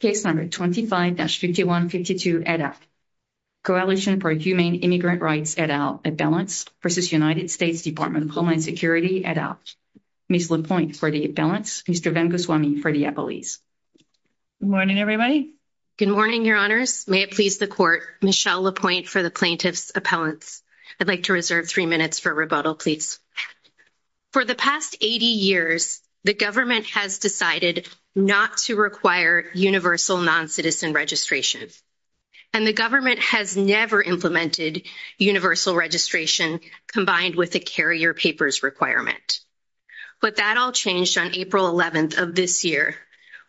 625-5152 ADAPT. Coalition for Humane Immigrant Rights ADAPT Appellants v. United States Department of Homeland Security ADAPT. Ms. LaPointe for the Appellants, Mr. Van Goswami for the Appellees. Good morning everybody. Good morning, Your Honors. May it please the court, Michelle LaPointe for the Plaintiff's Appellants. I'd like to reserve three minutes for rebuttal, please. For the past 80 years, the government has decided not to require universal non-citizen registration. And the government has never implemented universal registration combined with the carrier papers requirement. But that all changed on April 11th of this year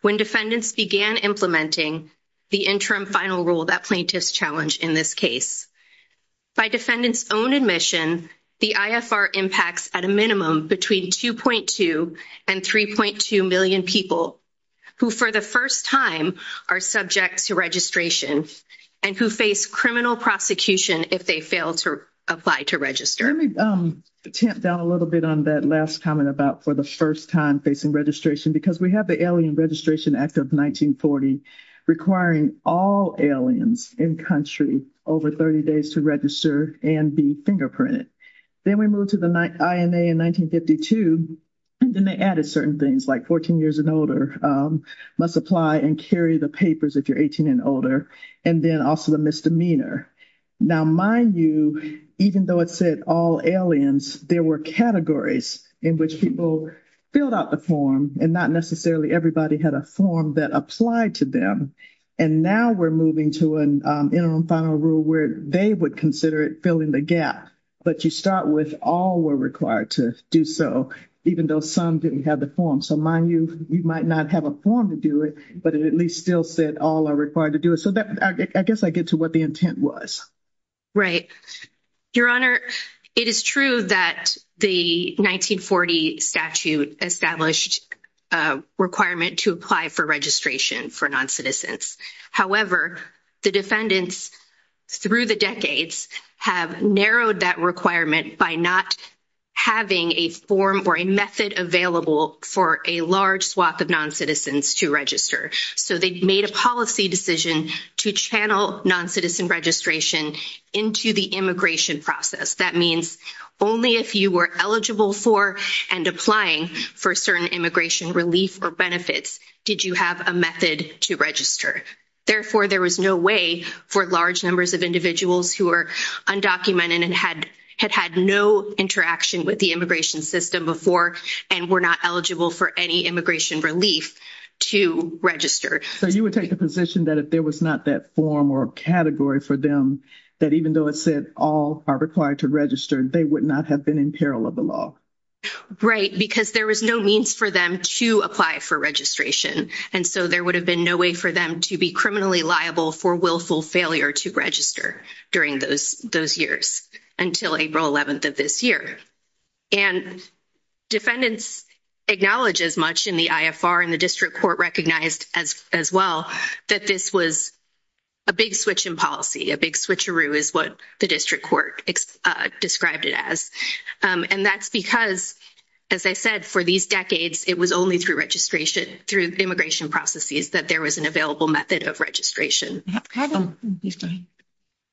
when defendants began implementing the interim final rule that plaintiffs challenged in this case. By defendants own admission, the IFR impacts at a people who for the first time are subject to registration and who face criminal prosecution if they fail to apply to register. Let me tamp down a little bit on that last comment about for the first time facing registration because we have the Alien Registration Act of 1940 requiring all aliens in country over 30 days to register and be fingerprinted. Then we moved to the INA in 1952 and then they added certain things like 14 years and older must apply and carry the papers if you're 18 and older. And then also the misdemeanor. Now mind you, even though it said all aliens, there were categories in which people filled out the form and not necessarily everybody had a form that applied to them. And now we're moving to an interim final rule where they would consider filling the gap. But you start with all were required to do so even though some didn't have the form. So mind you, you might not have a form to do it but it at least still said all are required to do it. So that I guess I get to what the intent was. Right. Your Honor, it is true that the 1940 statute established requirement to apply for registration for non-citizens. However, the defendants through the decades have narrowed that requirement by not having a form or a method available for a large swath of non-citizens to register. So they've made a policy decision to channel non-citizen registration into the immigration process. That means only if you were eligible for and applying for certain immigration relief or benefits did you have a method to register. Therefore there was no way for large numbers of individuals who are undocumented and had had had no interaction with the immigration system before and were not eligible for any immigration relief to register. So you would take the position that if there was not that form or category for them that even though it said all are required to register they would not have been in peril of the law. Right. Because there was no means for them to apply for registration. And so there would have been no way for them to be criminally liable for willful failure to register during those those years until April 11th of this year. And defendants acknowledge as much in the IFR and the district court recognized as as well that this was a big switch in policy. A big switcheroo is what the district court described it as. And that's because as I said for these it was only through registration through immigration processes that there was an available method of registration.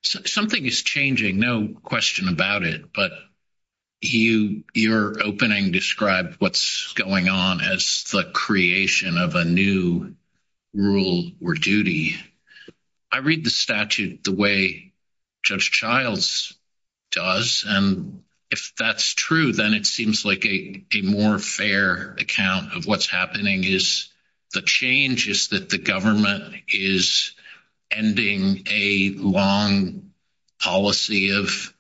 Something is changing no question about it but you your opening described what's going on as the creation of a new rule or duty. I read the statute the way Judge Childs does and if that's true then it seems like a more fair account of what's happening is the change is that the government is ending a long policy of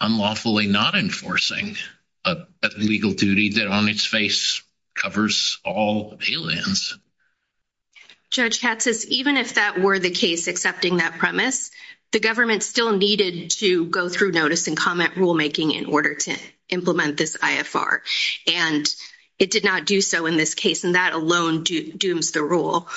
unlawfully not enforcing a legal duty that on its face covers all pay lands. Judge Tatsis even if that were the case accepting that premise the government still needed to go through notice and comment rulemaking in order to implement this IFR and it did not do so in this case and that alone dooms the rule.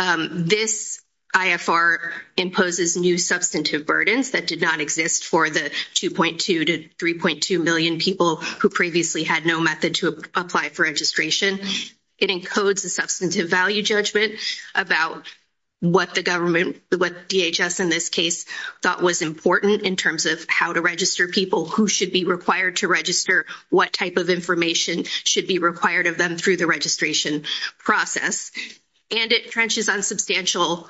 This IFR imposes new substantive burdens that did not exist for the 2.2 to 3.2 million people who previously had no method to apply for registration. It encodes a substantive value judgment about what the government what DHS in this case thought was important in terms of how to register people who should be required to register what type of information should be required of them through the registration process and it trenches on substantial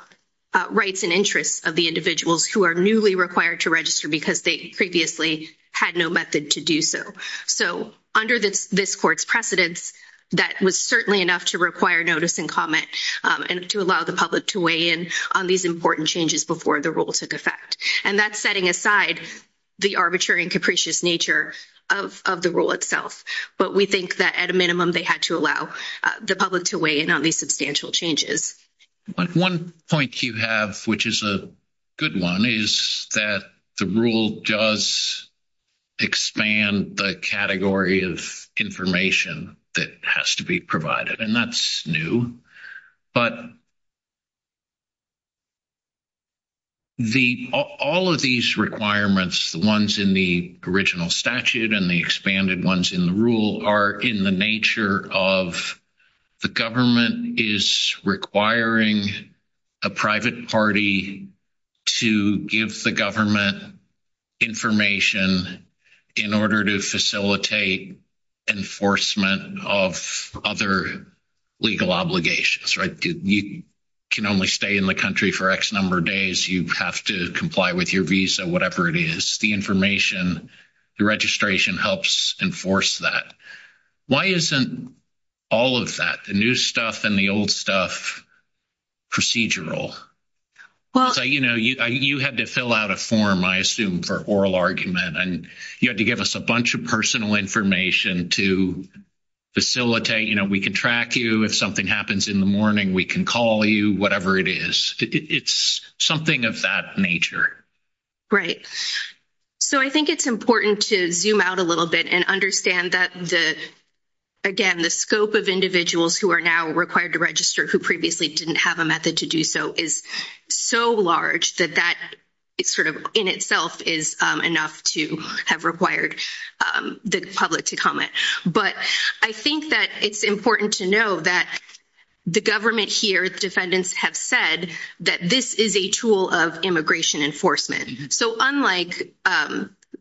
rights and interests of the individuals who are newly required to register because they previously had no method to do so. So under this court's precedence that was certainly enough to require notice and comment and to allow the public to weigh in on these important changes before the rule took effect and that's setting aside the arbitrary and capricious nature of the rule itself but we think that at a minimum they had to allow the public to weigh in on these substantial changes. One point you have which is a good one is that the rule does expand the category of information that has to be provided and that's new but the all of these requirements the ones in the original statute and the expanded ones in the rule are in the nature of the government is requiring a private party to give the government information in order to facilitate enforcement of other legal obligations right you can only stay in the country for X number of days you have to comply with your visa whatever it is the information the registration helps enforce that. Why isn't all of that the new stuff and the old stuff procedural? Well you know you have to fill out a form I assume for oral argument and you have to give us a bunch of personal information to facilitate you know we can track you if something happens in the morning we can call you whatever it is it's something of that nature. Right so I think it's important to zoom out a little bit and understand that the again the scope of individuals who are now required to register who previously didn't have a method to do so is so large that that it's sort of in itself is enough to have required the public to comment but I think that it's important to know that the government here's defendants have said that this is a tool of immigration enforcement so unlike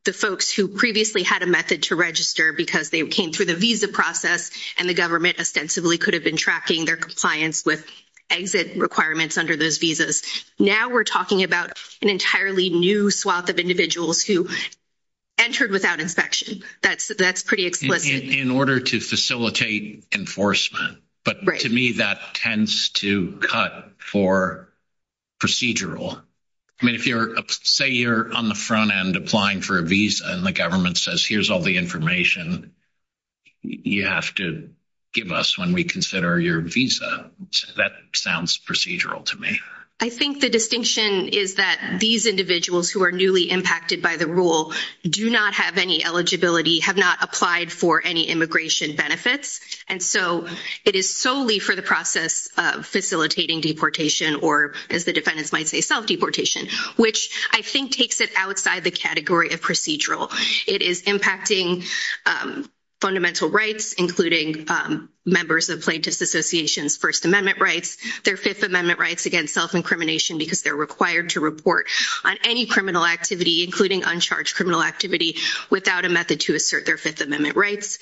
the folks who previously had a method to register because they came through the visa process and the government ostensibly could have been tracking their compliance with exit requirements under those visas now we're talking about an entirely new swath of individuals who entered without inspection that's that's pretty explicit. In order to facilitate enforcement but to me that tends to cut for procedural I mean if you're say you're on the front end applying for a government says here's all the information you have to give us when we consider your visa that sounds procedural to me. I think the distinction is that these individuals who are newly impacted by the rule do not have any eligibility have not applied for any immigration benefits and so it is solely for the process of facilitating deportation or as the defendants might say self deportation which I think takes it outside the category of procedural it is impacting fundamental rights including members of Plaintiffs Association's First Amendment rights their Fifth Amendment rights against self-incrimination because they're required to report on any criminal activity including uncharged criminal activity without a method to assert their Fifth Amendment rights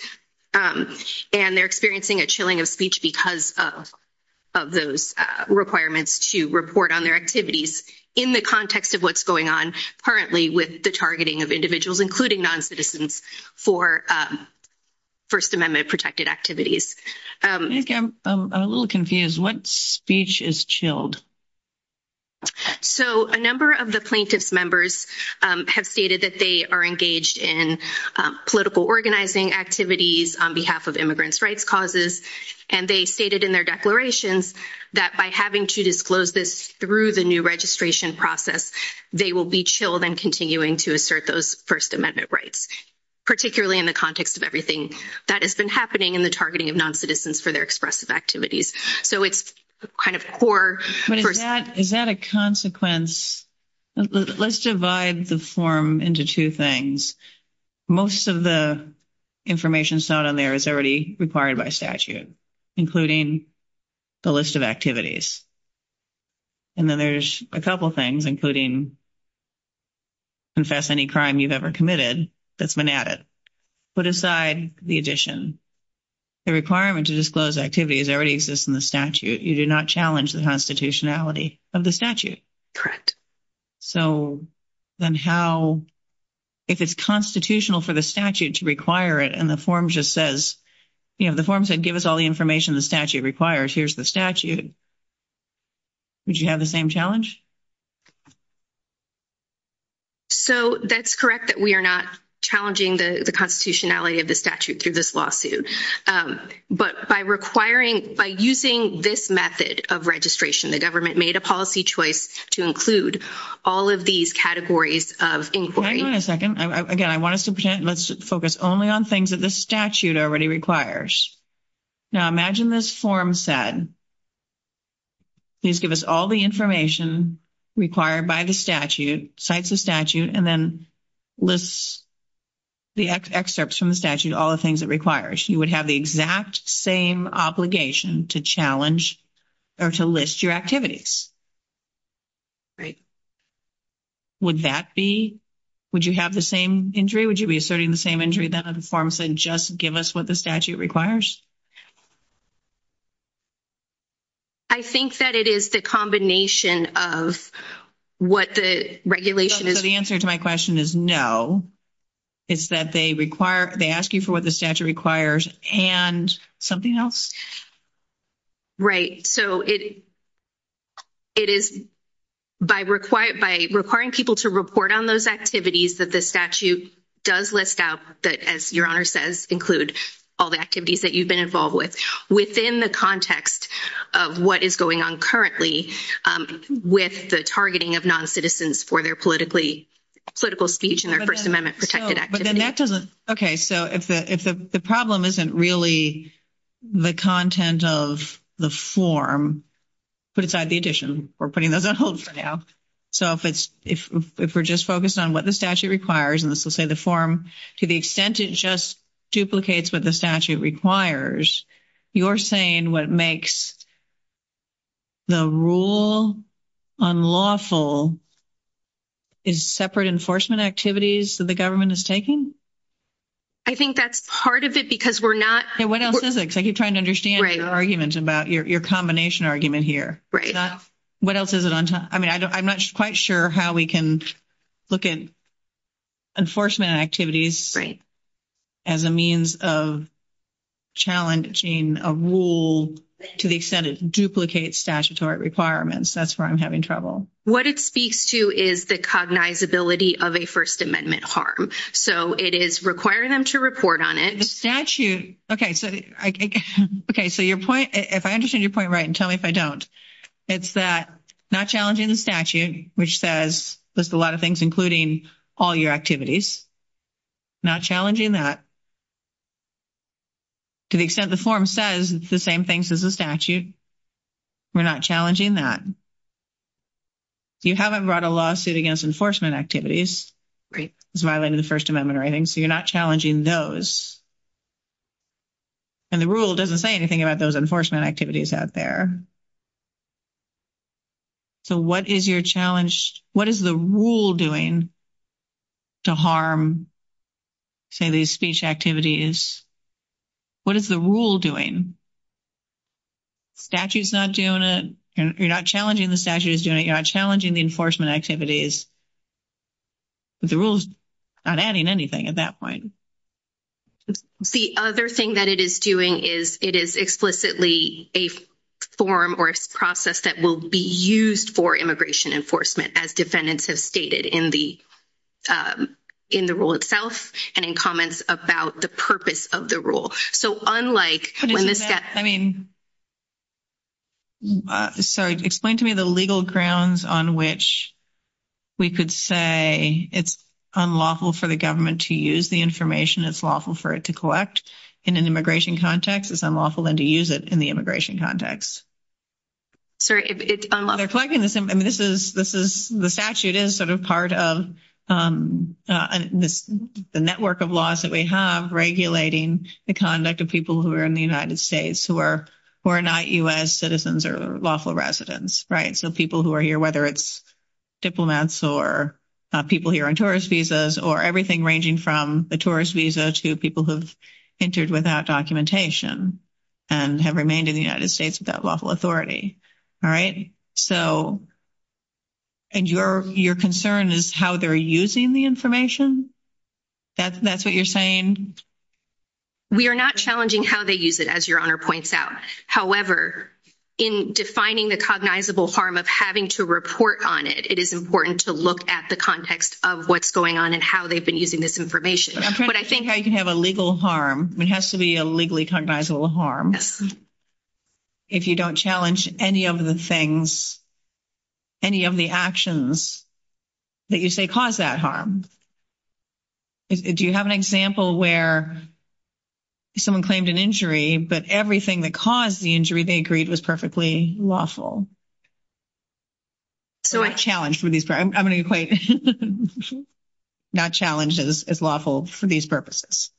and they're experiencing a chilling of speech because of those requirements to report on their activities in the context of what's going on currently with the targeting of individuals including non-citizens for First Amendment protected activities. I'm a little confused what speech is chilled? So a number of the plaintiffs members have stated that they are engaged in political organizing activities on behalf of immigrants rights causes and they stated in their declarations that by having to disclose this through the new registration process they will be chilled and continuing to assert those First Amendment rights particularly in the context of everything that has been happening in the targeting of non-citizens for their expressive activities so it's kind of core. Is that a consequence let's divide the form into two things most of the information on there is already required by statute including the list of activities and then there's a couple things including confess any crime you've ever committed that's been added. Put aside the addition the requirement to disclose activities already exists in the statute you do not challenge the constitutionality of the statute. Correct. So then how if it's constitutional for the statute to require it and the form just says you know the form said give us all the information the statute requires here's the statute would you have the same challenge? So that's correct that we are not challenging the constitutionality of the statute through this lawsuit but by requiring by using this method of registration the government made a policy choice to include all of these categories of inquiry. Wait a second again I want to focus only on things that the statute already requires now imagine this form said please give us all the information required by the statute cites the statute and then lists the excerpts from the statute all the things that requires you would have the exact same obligation to challenge or to list your activities. Right. Would that be would you have the same injury would you be asserting the same injury that the form said just give us what the statute requires? I think that it is the combination of what the regulation is. The answer to my question is no it's that they require they ask you for what the statute requires and something else. Right so it is by requiring people to report on those activities that the statute does list out that as your honor says include all the activities that you've been involved with within the context of what is going on currently with the targeting of non-citizens for their political speech and their First Amendment protected activity. Okay so if the problem isn't really the content of the form put aside the addition we're putting those on hold for now so if it's if we're just focused on what the statute requires and this will say the form to the extent it just duplicates what the requires you're saying what makes the rule unlawful is separate enforcement activities that the government is taking? I think that's part of it because we're not. What else is it? I keep trying to understand your argument about your combination argument here. Right. What else is it? I mean I'm not quite sure how we can look at enforcement activities as a means of challenging a rule to the extent it duplicates statutory requirements that's where I'm having trouble. What it speaks to is the cognizability of a First Amendment harm so it is requiring them to report on it. The statute okay so okay so your point if I understand your point right and tell me if I don't it's that not challenging the statute which says list a lot of things including all your activities not challenging that to the extent the form says it's the same things as a statute we're not challenging that. You haven't brought a lawsuit against enforcement activities it's violated the First Amendment or anything so you're not challenging those and the rule doesn't say anything about those enforcement activities out there. So what is your challenge what is the rule doing to harm say these speech activities what is the rule doing? Statute's not doing it and you're not challenging the statute is doing it you're not challenging the enforcement activities but the rules not adding anything at that point. The other thing that it is doing is it is explicitly a form or process that will be used for immigration enforcement as defendants have stated in the in the rule itself and in comments about the purpose of the rule so unlike I mean so explain to me the legal grounds on which we could say it's unlawful for the government to use the information that's lawful for it to collect in an immigration context it's unlawful than to use it in the immigration context. So it's unlawful. I mean this is this is the statute is sort of part of the network of laws that we have regulating the conduct of people who are in the United States who are who are not U.S. citizens or lawful residents right so people who are here whether it's diplomats or people here on visas or everything ranging from the tourist visa to people who've entered without documentation and have remained in the United States without lawful authority all right so and your your concern is how they're using the information that's that's what you're saying. We are not challenging how they use it as your honor points out however in defining the cognizable harm of having to report on it it is important to look at the context of what's going on and how they've been using this information but I think I can have a legal harm it has to be a legally cognizable harm if you don't challenge any of the things any of the actions that you say cause that harm if you have an example where someone claimed an injury but everything that caused the injury they agreed was perfectly lawful so I challenge for these I'm going to point not challenges as lawful for these purposes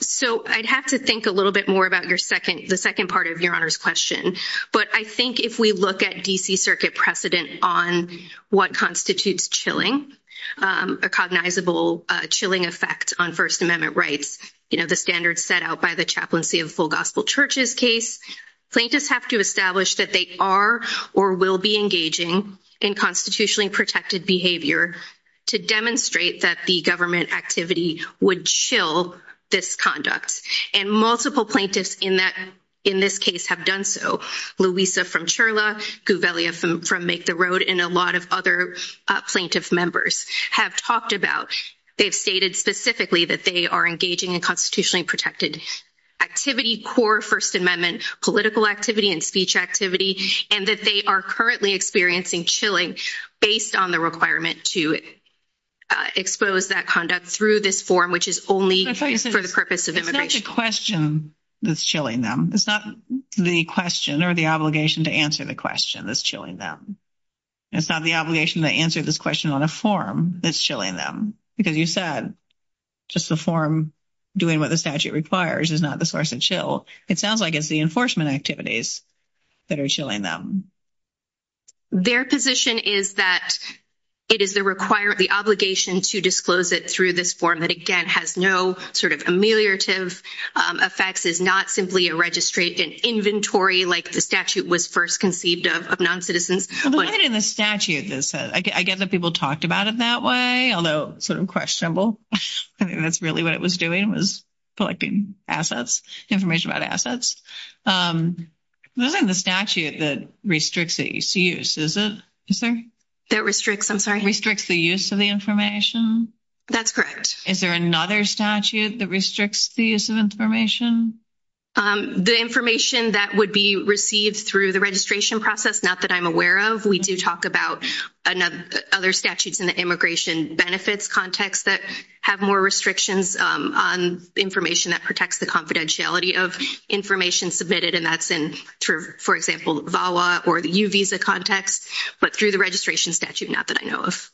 so I'd have to think a little bit more about your second the second part of your honors question but I think if we look at DC Circuit precedent on what constitutes chilling a cognizable chilling effect on First Amendment rights you know the standards set out by the chaplaincy of full gospel churches case plaintiffs have to establish that they are or will be engaging in constitutionally protected behavior to demonstrate that the government activity would chill this conduct and multiple plaintiffs in that in this case have done so Louisa from Sherla goo belly of them from make the road and a lot of other plaintiff members have talked about they've stated specifically that they are engaging in protected activity core First Amendment political activity and speech activity and that they are currently experiencing chilling based on the requirement to expose that conduct through this form which is only for the purpose of immigration question that's chilling them it's not the question or the obligation to answer the question that's chilling them it's not the obligation to answer this question on a form that's chilling them because you said just the form doing what the statute requires is not the source and chill it sounds like it's the enforcement activities that are chilling them their position is that it is the requirement the obligation to disclose it through this form that again has no sort of ameliorative effects is not simply a registry an inventory like the statute was first conceived of of non-citizens in the statute I get that people talk about it that way I'll know sort of questionable that's really what it was doing was collecting assets information about assets moving the statute that restricts the use is it sir that restricts I'm sorry restricts the use of the information that's correct is there another statute that restricts the use of information the information that would be received through the process not that I'm aware of we do talk about another other statutes in the immigration benefits context that have more restrictions on information that protects the confidentiality of information submitted and that's in for example VAWA or the U visa context but through the registration statute not that I know of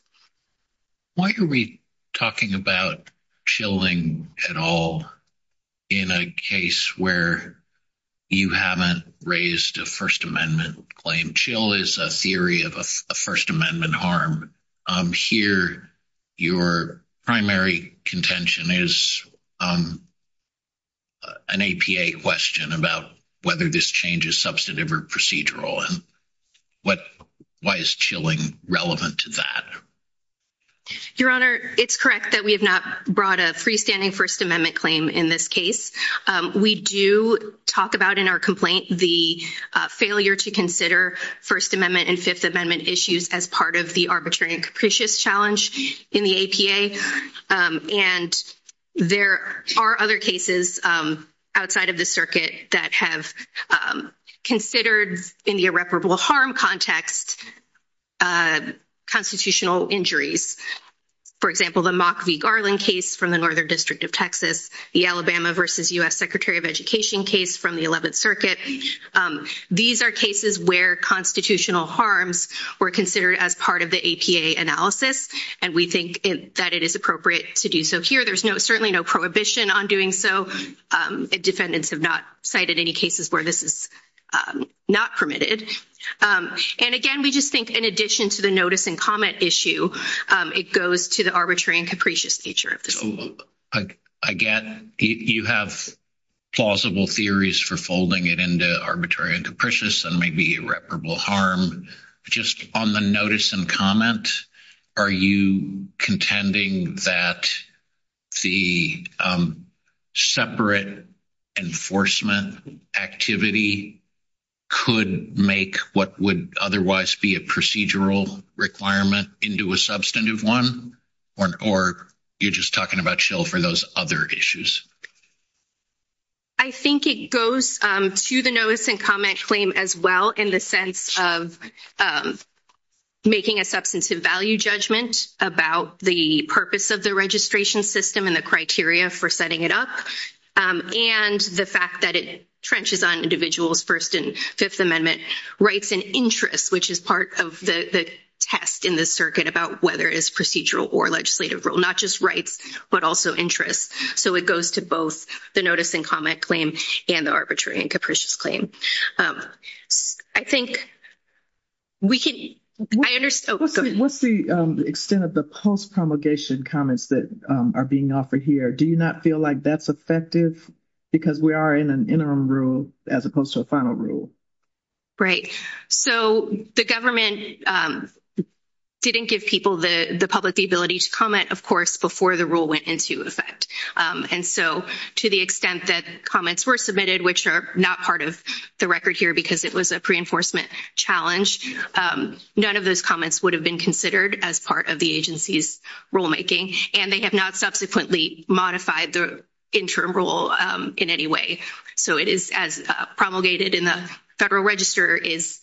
why are we talking about chilling at all in a case where you haven't raised a First Amendment claim chill is a theory of a First Amendment harm here your primary contention is an APA question about whether this change is substantive or procedural and what why is chilling relevant to that your honor it's correct that we have not brought a freestanding First Amendment claim in this case we do talk about in our complaint the failure to consider First Amendment and Fifth Amendment issues as part of the arbitrary capricious challenge in the APA and there are other cases outside of the circuit that have considered in the irreparable harm context constitutional injuries for example the mock v Garland case from the northern district of Texas the Alabama versus US Secretary of Education case from the 11th circuit these are cases where constitutional harms were considered as part of the APA analysis and we think that it is appropriate to do so here there's no certainly no prohibition on doing so defendants have not cited any cases where this is not permitted and again we just think in addition to the notice and issue it goes to the arbitrary and capricious nature again you have plausible theories for folding it into arbitrary and capricious and maybe irreparable harm just on the notice and comment are you contending that the separate enforcement activity could make what would otherwise be a procedural requirement into a substantive one or you're just talking about chill for those other issues I think it goes to the notice and comment claim as well in the sense of making a substantive value judgment about the purpose of the registration system and the criteria for setting it up and the fact that it trenches on individuals first and Fifth Amendment rights and interests which is of the test in this circuit about whether it's procedural or legislative rule not just right but also interest so it goes to both the notice and comment claim and arbitrary and capricious claim I think we can understand what's the extent of the post promulgation comments that are being offered here do you not feel like that's effective because we are in an interim rule as opposed to a the government didn't give people the the public the ability to comment of course before the rule went into effect and so to the extent that comments were submitted which are not part of the record here because it was a pre-enforcement challenge none of those comments would have been considered as part of the agency's rulemaking and they have not subsequently modified the interim rule in any way so it is as promulgated in the Federal Register is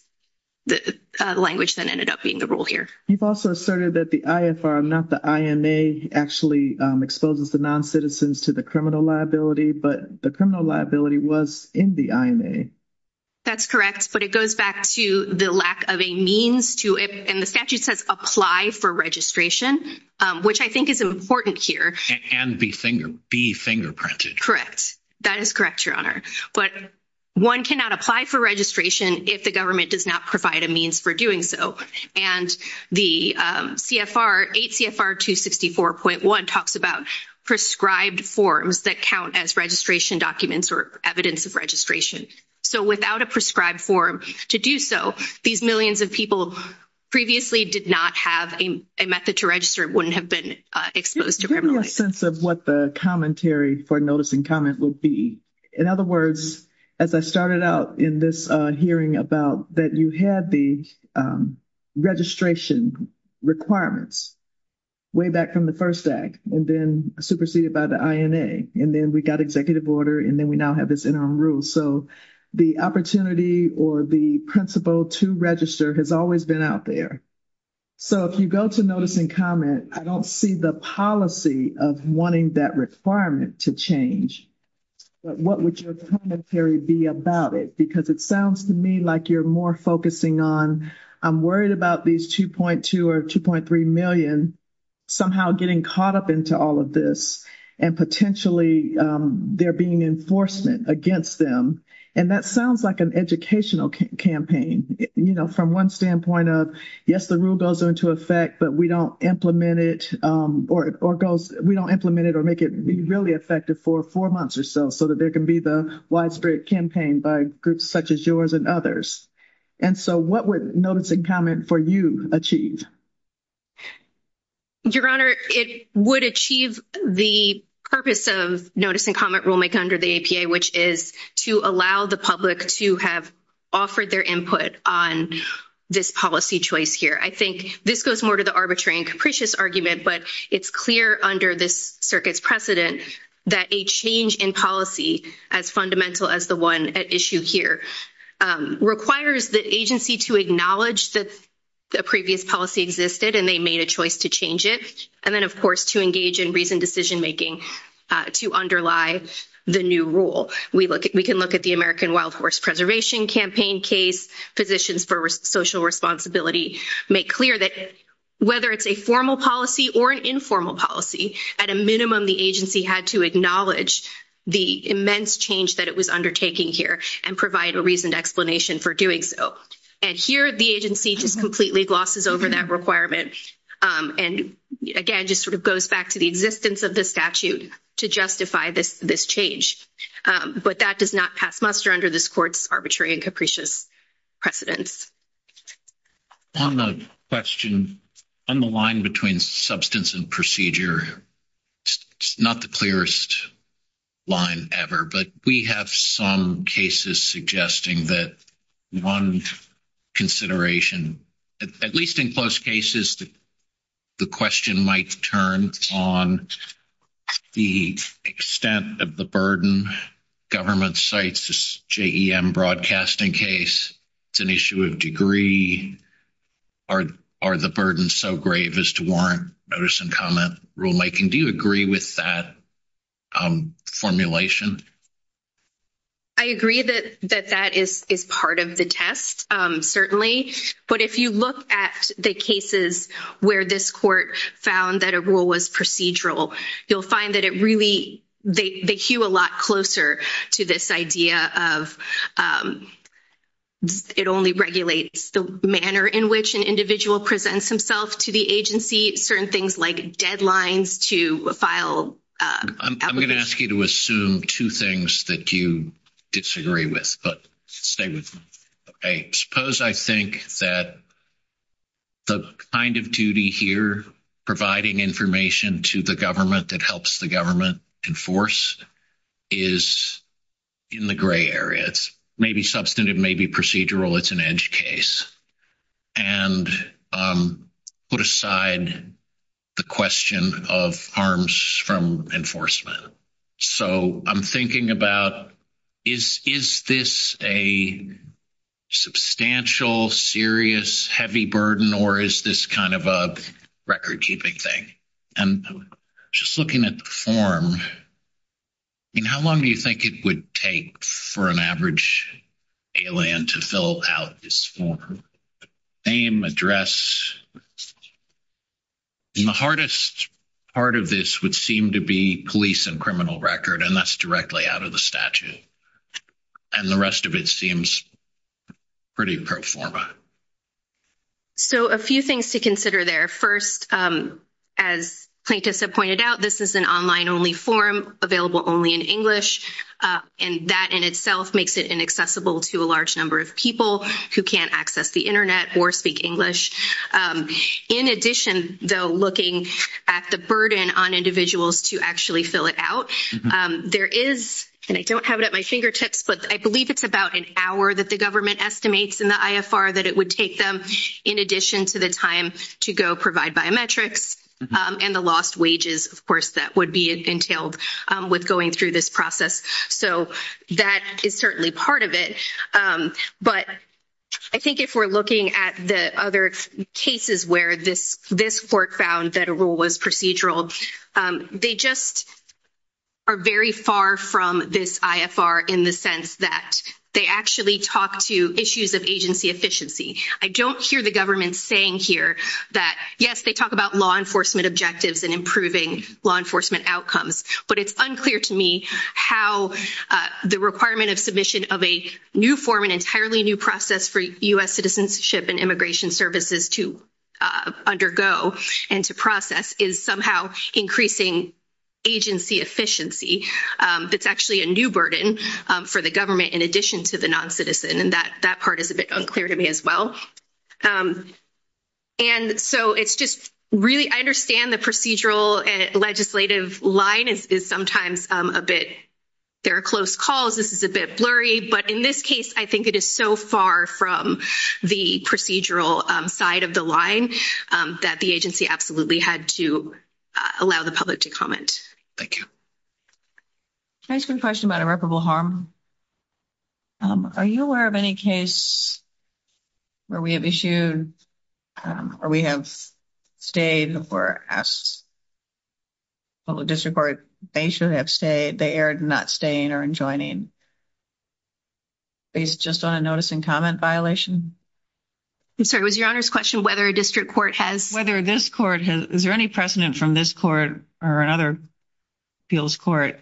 the language that ended up being the rule here you've also asserted that the IFR I'm not the IMA actually exposes the non-citizens to the criminal liability but the criminal liability was in the IMA that's correct but it goes back to the lack of a means to it and the statute says apply for registration which I think is important here and be finger be fingerprinted correct that is correct your honor but one cannot apply for registration if the government does not provide a means for doing so and the CFR 8 CFR 264.1 talks about prescribed forms that count as registration documents or evidence of registration so without a prescribed form to do so these millions of people previously did not have a method to register it wouldn't have been exposed sense of what the commentary for notice and comment will be in other words as I started out in this hearing about that you had the registration requirements way back from the first act and then superseded by the INA and then we got executive order and then we now have this interim rule so the opportunity or the principle to register has always been out there so if you go to notice and comment I don't see the policy of wanting that requirement to change but what would your commentary be about it because it sounds to me like you're more focusing on I'm worried about these 2.2 or 2.3 million somehow getting caught up into all of this and potentially there being enforcement against them and that sounds like an educational campaign you know from one standpoint of yes the rule goes into effect but we don't implement it or it goes we don't implement it or make it be really effective for four months or so so that there can be the widespread campaign by groups such as yours and others and so what would notice and comment for you achieve your honor it would achieve the purpose of notice and comment will make under the APA which is to allow the public to have offered their input on this policy choice here I think this goes more to the arbitrary and capricious argument but it's clear under this circuit precedent that a change in policy as fundamental as the one at issue here requires the agency to acknowledge that the previous policy existed and they made a choice to change it and then of course to engage in recent decision making to underlie the new rule we look at we can look at the American wild horse preservation campaign case positions for social responsibility make clear that whether it's a formal policy or an informal policy at a minimum the agency had to acknowledge the immense change that it was undertaking here and provide a reasoned explanation for doing so and here the agency just completely glosses over that requirement and again just sort of goes back to the existence of the statute to justify this this change but that does not pass muster under this courts arbitrary and capricious precedence on the question on the line between substance and procedure not the clearest line ever but we have some cases suggesting that one consideration at least in close cases the question might turn on the extent of the burden government sites this JEM broadcasting case it's an issue of degree or are the burden so grave as to warrant notice and comment rule making do you agree with that formulation I agree that that that is is part of the test certainly but if you look at the cases where this court found that a rule was procedural you'll find that it really they cue a lot closer to this idea of it only regulates the manner in which an individual presents himself to the agency certain things like deadlines to file I'm going to ask you to assume two things that you disagree with but I suppose I think that the kind of duty here providing information to the government that helps the government enforce is in the gray areas maybe substantive maybe procedural it's an edge case and put aside the question of harms from enforcement so I'm thinking about is is this a substantial serious heavy burden or is this kind of a record-keeping thing and just looking at the form and how long do you think it would take for an average alien to fill out this form name address the hardest part of this would seem to be police and criminal record and that's directly out of the statute and the rest of it seems pretty performa so a few things to consider there first as plaintiffs have pointed out this is an online only form available only in English and that in itself makes it inaccessible to a large number of people who can't access the Internet or speak English in addition though looking at the burden on individuals to actually fill it out there is and I don't have it at my fingertips but I believe it's about an hour that the government estimates in the IFR that it would take them in addition to the time to go provide biometrics and the lost wages of course that would be entailed with going through this process so that is certainly part of it but I think if we're looking at the other cases where this this work found that a rule was procedural they just are very far from this IFR in the sense that they actually talk to issues of agency efficiency I don't hear the government saying here that yes they talk about law enforcement objectives and improving law enforcement outcomes but it's unclear to me how the requirement of submission of a new form an entirely new process for US citizenship and immigration services to undergo and to process is somehow increasing agency efficiency that's actually a new burden for the government in addition to the non-citizen and that that part is a bit unclear to me as well and so it's just really I understand the procedural legislative line is sometimes a bit there are close calls this is a bit blurry but in this case I think it is so far from the procedural side of the line that the agency absolutely had to allow the public to comment thank you nice good question about irreparable harm are you aware of any case where we have issued or we have stayed before us well the district court they should have stayed they aired not staying or enjoining based just on a notice and comment violation I'm sorry was your honors question whether a district court has whether this court has is there any precedent from this court or another fields court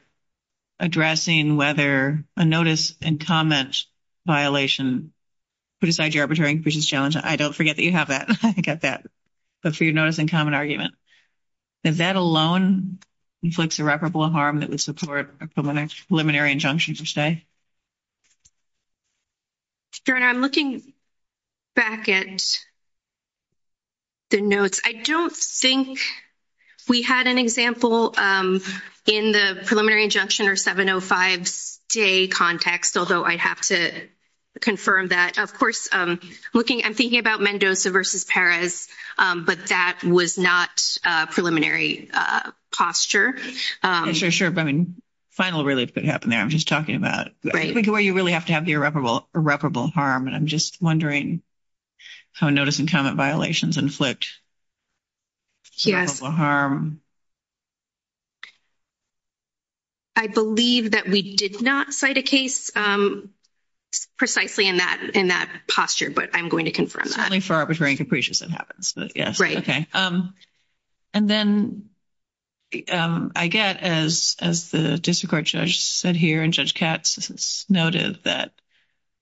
addressing whether a notice and comment violation put aside your arbitrariness challenge I don't forget that you have that I think at that but for your notice in common argument is that alone inflicts irreparable harm that would support a preliminary injunction for stay turn I'm looking back at the notes I don't think we had an example in the preliminary injunction or 705 day context although I have to confirm that of course I'm looking I'm thinking about Mendoza versus Paris but that was not preliminary posture sure sure I mean final release could happen there I'm just talking about where you really have to have the irreparable irreparable harm and I'm just wondering how notice and comment violations inflict here's the harm I believe that we did not cite a case precisely in that in that posture but I'm going to confirm that only for arbitrary and capricious it happens yes right okay um and then I get as as the district court judge said here and cats noted that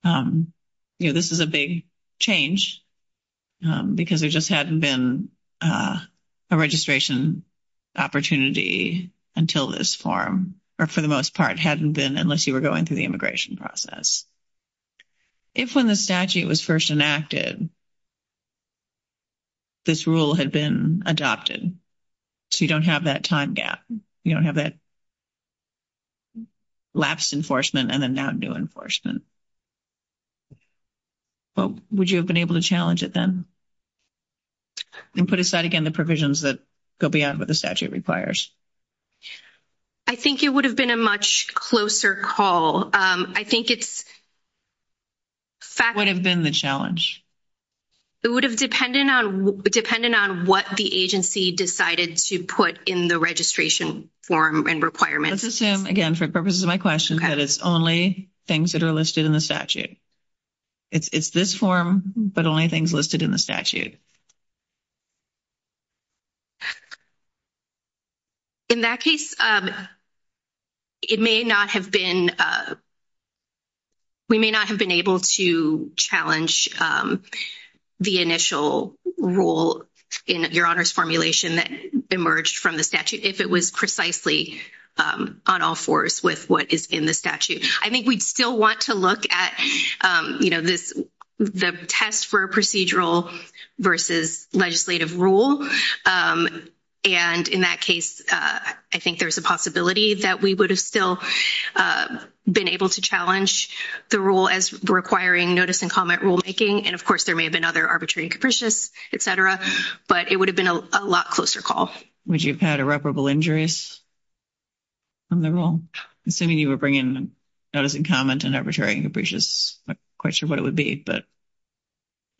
you know this is a big change because we just hadn't been a registration opportunity until this form or for the most part hadn't been unless you were going through the immigration process if when the statute was first enacted this rule had been adopted so you don't have that time gap you don't have that last enforcement and then now new enforcement well would you have been able to challenge it then and put aside again the provisions that go beyond what the statute requires I think it would have been a much closer call I think it would have been the challenge it would have dependent on dependent on what the agency decided to put in the registration form and requirements assume again for purposes of my question that it's only things that are listed in the statute it's this form but only things listed in the statute in that case it may not have been we may not have been able to challenge the initial rule in your honors formulation that emerged from the statute if it was precisely on all fours with what is in the statute I think we'd still want to look at you know this the test for procedural versus legislative rule and in that case I think there's a possibility that we would have still been able to challenge the rule as requiring notice and comment rule making and of course there may have been other arbitrary and capricious etc but it would have been a lot closer call would you've had irreparable injuries well assuming you were bringing noticing comment and arbitrary and capricious question what it would be but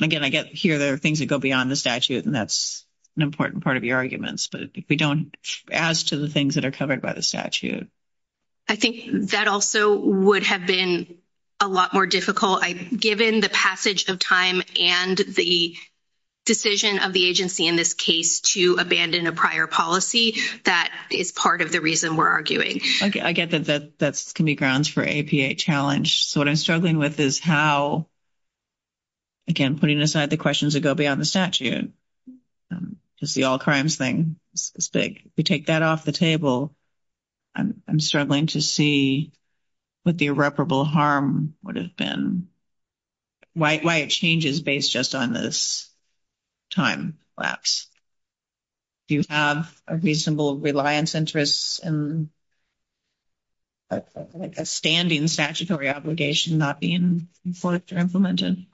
again I guess here there are things that go beyond the statute and that's an important part of your arguments but if we don't ask to the things that are covered by the statute I think that also would have been a lot more difficult I given the passage of time and the decision of the agency in this case to abandon a prior policy that is part of the reason we're arguing okay I get that that can be grounds for APA challenge so what I'm struggling with is how again putting aside the questions that go beyond the statute just the all crimes thing it's big we take that off the table I'm struggling to see what the irreparable harm would have been white white changes based just on this time lapse do you have a reasonable reliance interests and a standing statutory obligation not being enforced or implemented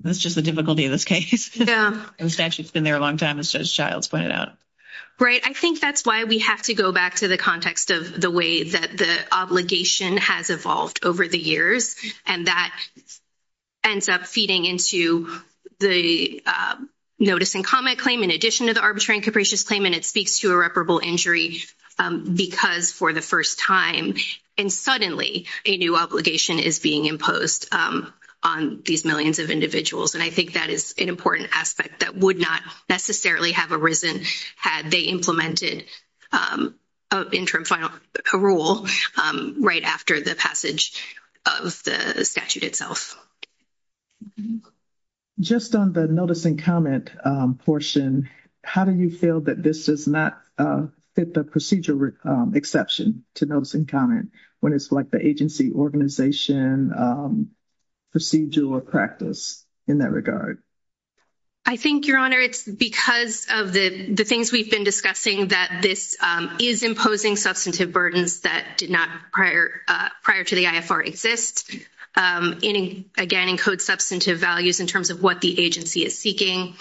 that's just the difficulty of this case yeah it's actually been there a long time as a child's went out right I think that's why we have to go back to the context of the way that the obligation has evolved over the years and that ends up feeding into the notice and comment claim in addition to the arbitrary and capricious claim and it speaks to irreparable injury because for the first time and suddenly a new obligation is being imposed on these millions of individuals and I think that is an important aspect that would not necessarily have arisen had they implemented a rule right after the passage of the statute itself just on the notice and comment portion how do you feel that this does not fit the procedural exception to notice and comment when it's like the agency organization procedural practice in that I think your honor it's because of the the things we've been discussing that this is imposing substantive burdens that did not prior prior to the IFR exist in again encode substantive values in terms of what the agency is seeking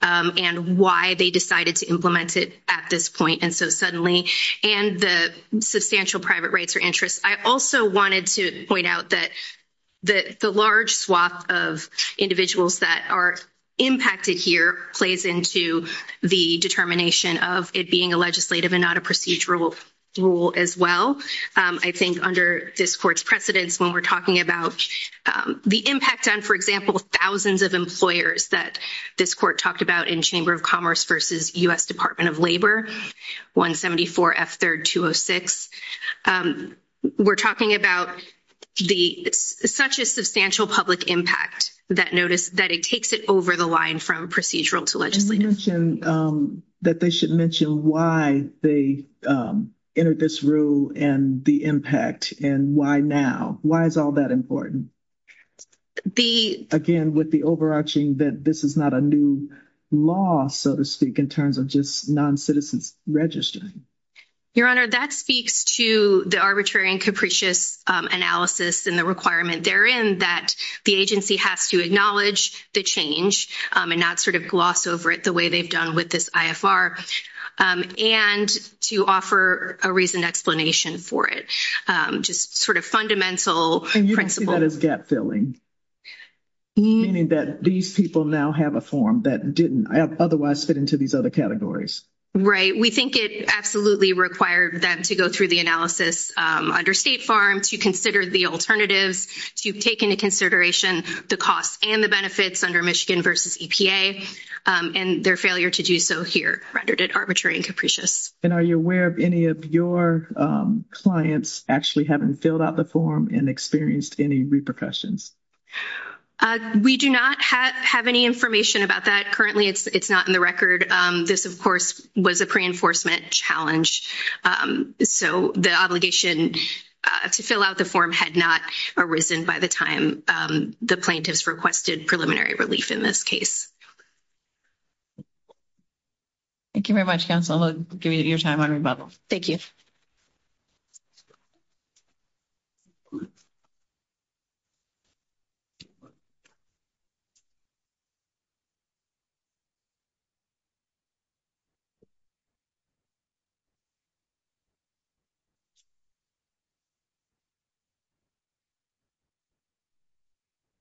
and why they decided to implement it at this point and so suddenly and the substantial private rights or interest I also wanted to point out that that the large swath of individuals that are impacted here plays into the determination of it being a legislative and not a procedural rule as well I think under this court's precedents when we're talking about the impact on for example thousands of employers that this court talked about in Chamber of Commerce versus US Department of Labor 174 F 3rd 206 we're talking about the such a substantial public impact that notice that it takes it over the line from procedural to legislation that they should mention why they entered this rule and the impact and why now why is all that important the again with the overarching that this is not a new law so to speak in terms of just non-citizens registering your honor that speaks to the arbitrary and capricious analysis and the requirement therein that the agency has to acknowledge the change and not sort of gloss over it the way they've done with this IFR and to offer a reason explanation for it just sort of fundamental and you can see that as gap filling meaning that these people now have a form that didn't otherwise fit into these other categories right we think it absolutely required them to go through the analysis under state farm to consider the alternative to take into consideration the cost and the benefits under Michigan versus EPA and their failure to do so here rendered it arbitrary and capricious and are you aware of any of your clients actually haven't filled out the form and experienced any repercussions we do not have any information about that currently it's not in the record this of course was a pre-enforcement challenge so the obligation to fill out the form had not arisen by the time the plaintiffs requested preliminary relief in this case thank you very much that's all your time on rebuttal thank you you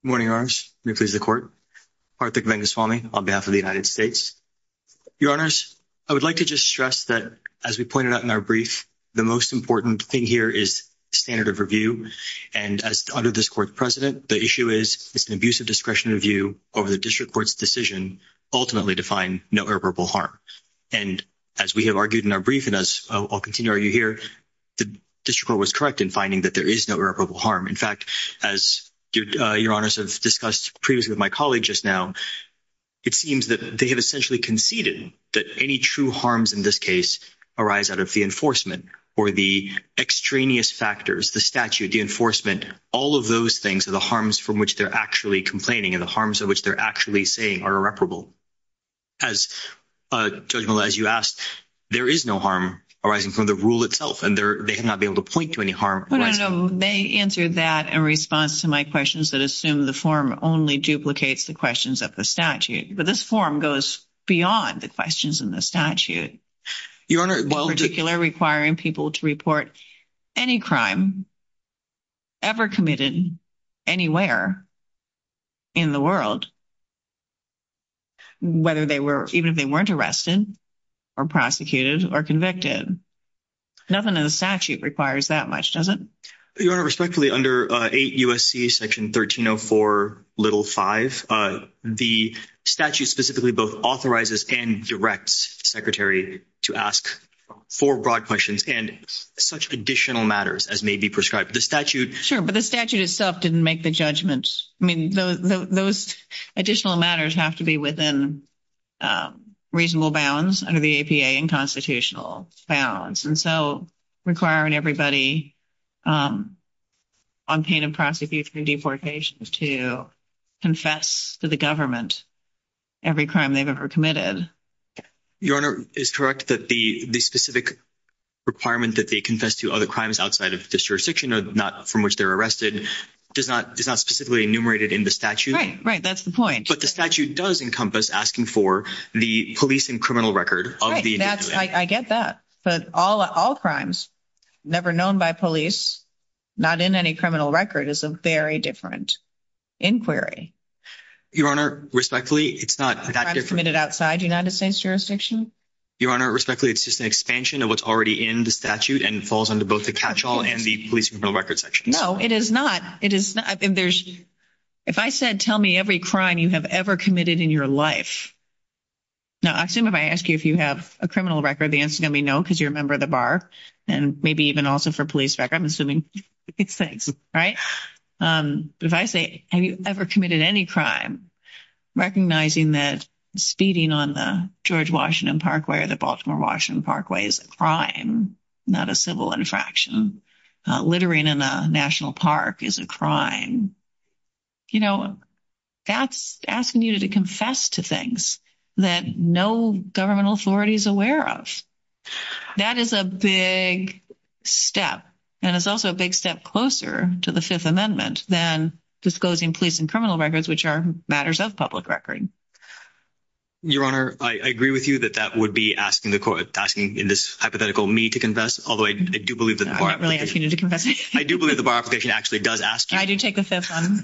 morning arms if there's the court our picnic is falling on behalf of the United States your honors I would like to just stress that as we pointed out in our brief the most important thing here is standard of review and as under this court president the issue is it's an abusive discretion of you over the district courts decision ultimately define no irreparable harm and as we have argued in our brief and as I'll continue are you here the district was correct in finding that there is no irreparable harm in fact as your honors have discussed previously with my colleague just now it seems that they have essentially conceded that any true harms in this case arise out of the enforcement or the extraneous factors the statute the enforcement all of those things are the harms from which they're actually complaining and the harms of they're actually saying are irreparable as you asked there is no harm arising from the rule itself and they're they have not been able to point to any harm they answer that and response to my questions that assume the form only duplicates the questions of the statute but this form goes beyond the questions in the statute your honor well particular requiring people to report any crime ever committed anywhere in the world whether they were even if they weren't arrested or prosecuted or convicted nothing in the statute requires that much doesn't your respectfully under a USC section 1304 little five the statute specifically both authorizes and directs secretary to ask four broad questions and such additional matters as may be prescribed the statute sure but the statute itself didn't make the judgment I mean those additional matters have to be within reasonable bounds under the APA and constitutional balance and so requiring everybody on pain and prosecution deportations to confess to the government every crime they've ever committed your honor is correct that the specific requirement that they confess to other crimes outside of this jurisdiction of not from which they're arrested does not does not specifically enumerated in the statute right that's the point but the statute does encompass asking for the police and criminal record of the I get that but all all crimes never known by police not in any criminal record is a very different inquiry your honor respectfully it's not committed outside United States jurisdiction your honor respectfully it's just an expansion of what's already in the statute and falls under both the capsule and the police no record section no it is not it is I think there's if I said tell me every crime you have ever committed in your life now I assume if I ask you if you have a criminal record the answer gonna be no because you're a member of the bar and maybe even also for police track I'm assuming right if I say have you ever committed any crime recognizing that speeding on the George Washington Park where the Baltimore Washington Park way is a crime not a civil infraction littering in a National Park is a crime you know that's asking you to confess to things that no government authorities aware of that is a big step and it's also a big step closer to the Fifth Amendment then disclosing police and criminal records which are matters of public record your honor I agree with you that that would be asking the court asking in this hypothetical me to confess although I do believe that I do believe the bar application actually does ask how do you take a step on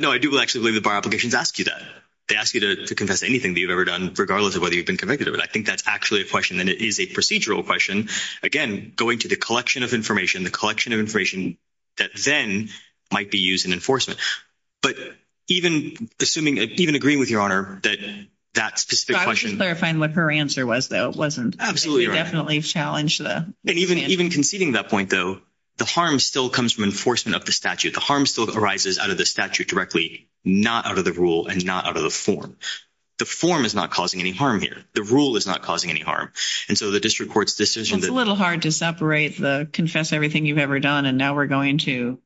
no I do actually the bar applications ask you that they ask you to confess anything that you've ever done regardless of whether you've been convicted of it I think that's actually a question and it is a procedural question again going to the collection of information the collection of information that then might be used in enforcement but even assuming even agreeing with your honor that that's clarifying what her answer was though it wasn't absolutely definitely challenged the even even conceding that point though the harm still comes from enforcement of the statute the harm still arises out of the statute directly not out of the rule and not out of the form the form is not causing any harm here the rule is not causing any harm and so the district court's decision a little hard to separate the confess everything you've ever done and now we're going to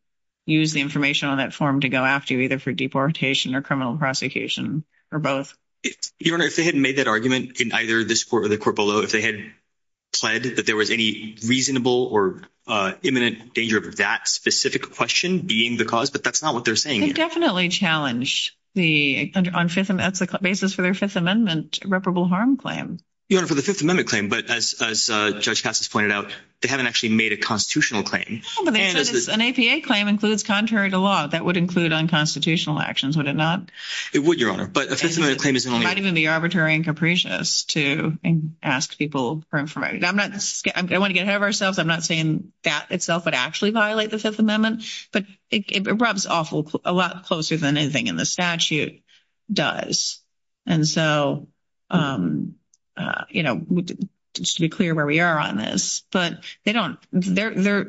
use the information on that form to go after you either for deportation or criminal prosecution or both even if they hadn't made that argument in either this court or the court below if they had pledged that there was any reasonable or imminent danger of that specific question being the cause but that's not what they're saying definitely challenge the basis for their Fifth Amendment reparable harm claim you know for the Fifth Amendment claim but as pointed out they haven't actually made a constitutional claim an APA claim includes contrary to law that would include unconstitutional actions would it not it would your honor but I didn't the arbitrary and capricious to ask people for information I'm not I want to get have ourselves I'm not saying that itself would actually violate the Fifth Amendment but it rubs awful a lot closer than anything in the statute does and so you know just to be clear where we are on this but they don't they're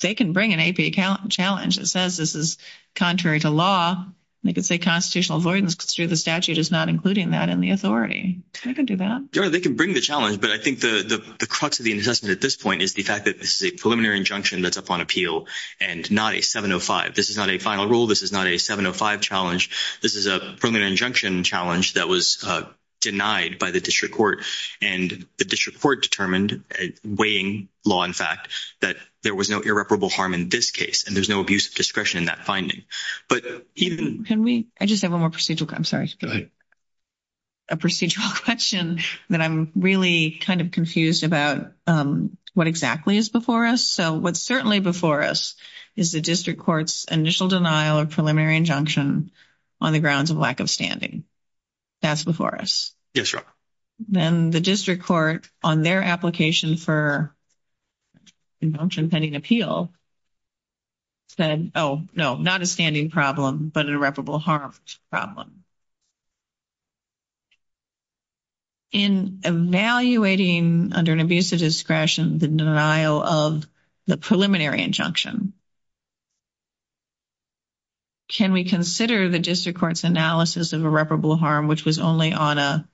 they can bring an APA account challenge that says this is contrary to law they could say constitutional avoidance through the statute is not including that in the authority they can do that they can bring the challenge but I think the crux of the incessant at this point is the fact that this is a preliminary injunction that's up on appeal and not a 705 this is not a final rule this is not a 705 challenge this is a permanent injunction challenge that was denied by the district court and the district court determined a weighing law in fact that there was no irreparable harm in this case and there's no abuse of discretion in that finding but you can we I just have a more procedural I'm sorry a procedural question that I'm really kind of confused about what exactly is before us so what's certainly before us is the district courts initial denial of preliminary injunction on the grounds of lack of standing that's before us yes sir then the district court on their application for injunction pending appeal said oh no not a standing problem but irreparable harm problem in evaluating under an abuse of discretion the denial of the preliminary injunction can we consider the district courts analysis of irreparable harm which was only on a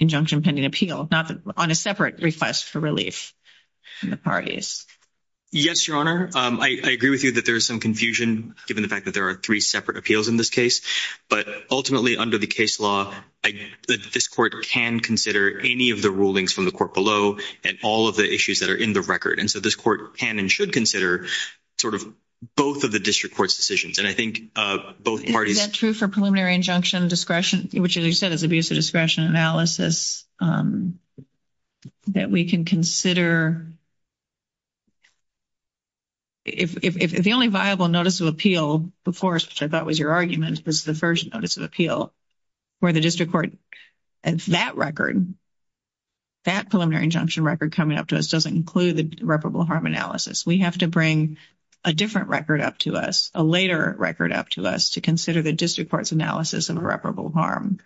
injunction pending appeal not on a separate request for relief in the parties yes your honor I agree with you that there's some confusion given the there are three separate appeals in this case but ultimately under the case law this court can consider any of the rulings from the court below and all of the issues that are in the record and so this court can and should consider sort of both of the district court's decisions and I think both parties that true for preliminary injunction discretion which is you said it's abuse of discretion analysis that we can consider if the only viable notice of appeal of course I thought was your arguments this is the first notice of appeal where the district court and for that record that preliminary injunction record coming up to us doesn't include the reputable harm analysis we have to bring a different record up to us a later record up to us to consider the district courts analysis of irreparable harm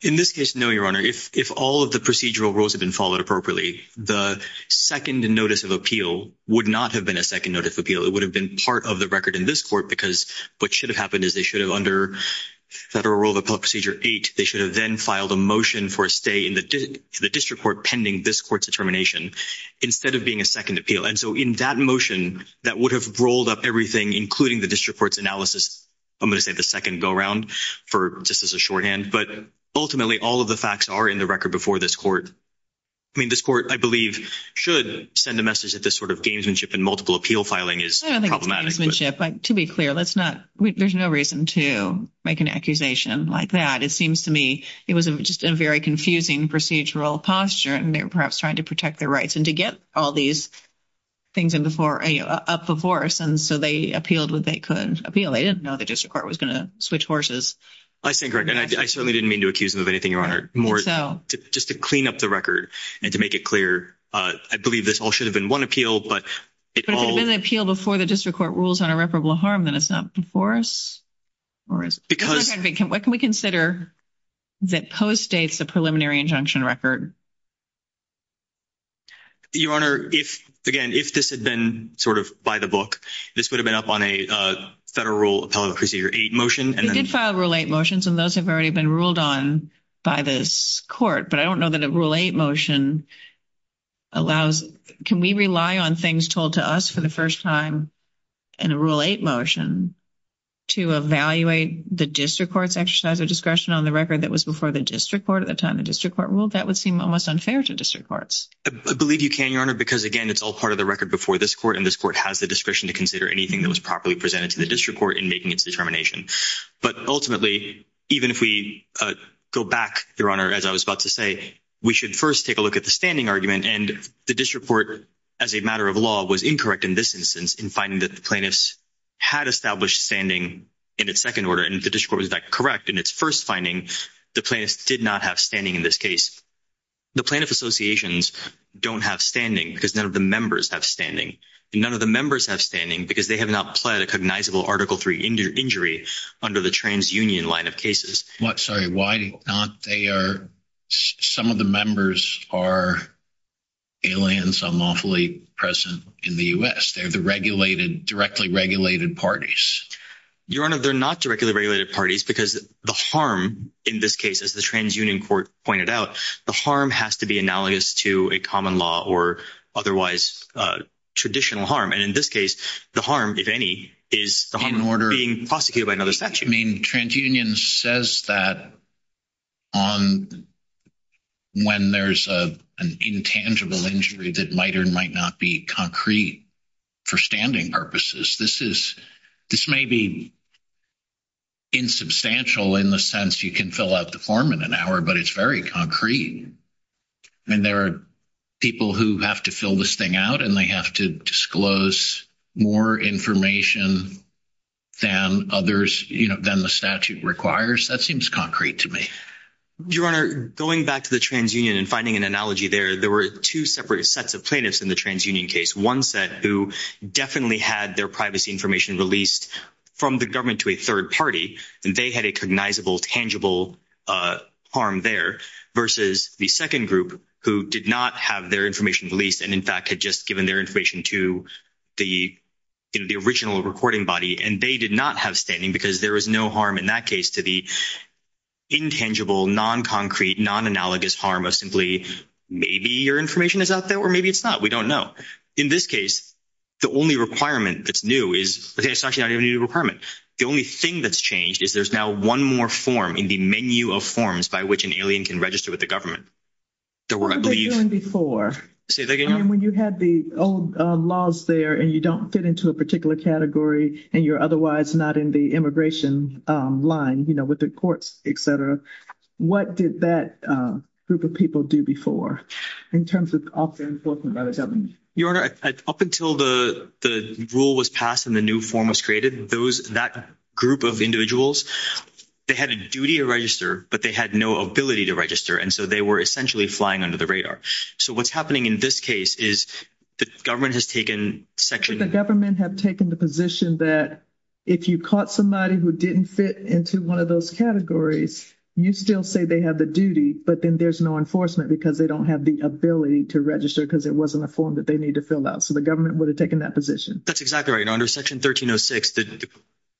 in this case no your honor if all of the procedural rules have been followed appropriately the second notice of appeal would not have been a second notice of appeal it would have been part of the record in this court because what should have happened is they should have under federal rule of appellate procedure eight they should have then filed a motion for a stay in the district court pending this court's determination instead of being a second appeal and so in that motion that would have rolled up everything including the district courts analysis I'm going to take a second go-round for just as a shorthand but ultimately all of the facts are in the record before this court I mean this court I believe should send a message that this sort of gamesmanship and multiple appeal filing is to be clear let's not there's no reason to make an accusation like that it seems to me it was just a very confusing procedural posture and they're perhaps trying to protect their rights and to get all these things in before a up the horse and so they appealed what they couldn't appeal they didn't know the district court was going to switch horses I think I certainly didn't mean to accuse them of anything your honor more so just to clean up the record and to make it clear I believe this all should have been one appeal but it's all an appeal before the district court rules on irreparable harm that is not before us because what can we consider that postdates the preliminary injunction record your honor if again if this had been sort of by the book this would have been up on a federal appellate procedure eight motion and five relate motions and those have already been ruled on by this court but I don't know that a rule 8 motion allows can we rely on things told to us for the first time and a rule 8 motion to evaluate the district courts exercise or discretion on the record that was before the district court at the time the district court rule that would seem almost unfair to district courts I believe you can your honor because again it's all part of the record before this court and this court has the discretion to consider anything that was properly presented to the district court in making its determination but ultimately even if we go back your honor as I was about to say we should first take a look at the standing argument and the district court as a matter of law was incorrect in this instance in finding that the plaintiffs had established standing in its second order and if the district court was that correct in its first finding the plaintiffs did not have standing in this case the plaintiff associations don't have standing because none of the members have standing none of the members have standing because they have not pled a cognizable article 3 injured injury under the TransUnion line of cases what sorry why not they are some of the members are aliens unlawfully present in the u.s. they're the regulated directly regulated parties your honor they're not directly regulated parties because the harm in this case as the TransUnion court pointed out the harm has to be analogous to a common law or otherwise traditional harm and in this case the harm if any is the home order being prosecuted by another statute I mean TransUnion says that on when there's a an intangible injury that might or might not be concrete for standing purposes this is this may be insubstantial in the sense you can fill out the form in an hour but it's very concrete and there are people who have to fill this thing out and they have to disclose more information and others you know then the statute requires that seems concrete to me your honor going back to the TransUnion and finding an analogy there there were two separate sets of plaintiffs in the TransUnion case one set who definitely had their privacy information released from the government to a third party and they had a cognizable tangible harm there versus the second group who did not have their information released and in fact had just given their information to the in the original recording body and they did not have standing because there was no harm in that case to the intangible non-concrete non-analogous harm of simply maybe your information is out there or maybe it's not we don't know in this case the only requirement that's new is the only thing that's changed is there's now one more form in the menu of forms by which an alien can register with the government before when you had the old laws there and you don't fit into a particular category and you're otherwise not in the immigration line you know with the courts etc what did that group of people do before in terms of often your up until the rule was passed and the new form was created those that group of individuals they had a duty to register but they had no ability to register and so they were essentially flying under the radar so what's happening in this case is the government has taken section the government have taken the position that if you caught somebody who didn't fit into one of those categories you still say they have the duty but then there's no enforcement because they don't have the ability to register because it wasn't a form that they need to fill out so the government would have taken that position that's exactly right under section 1306 the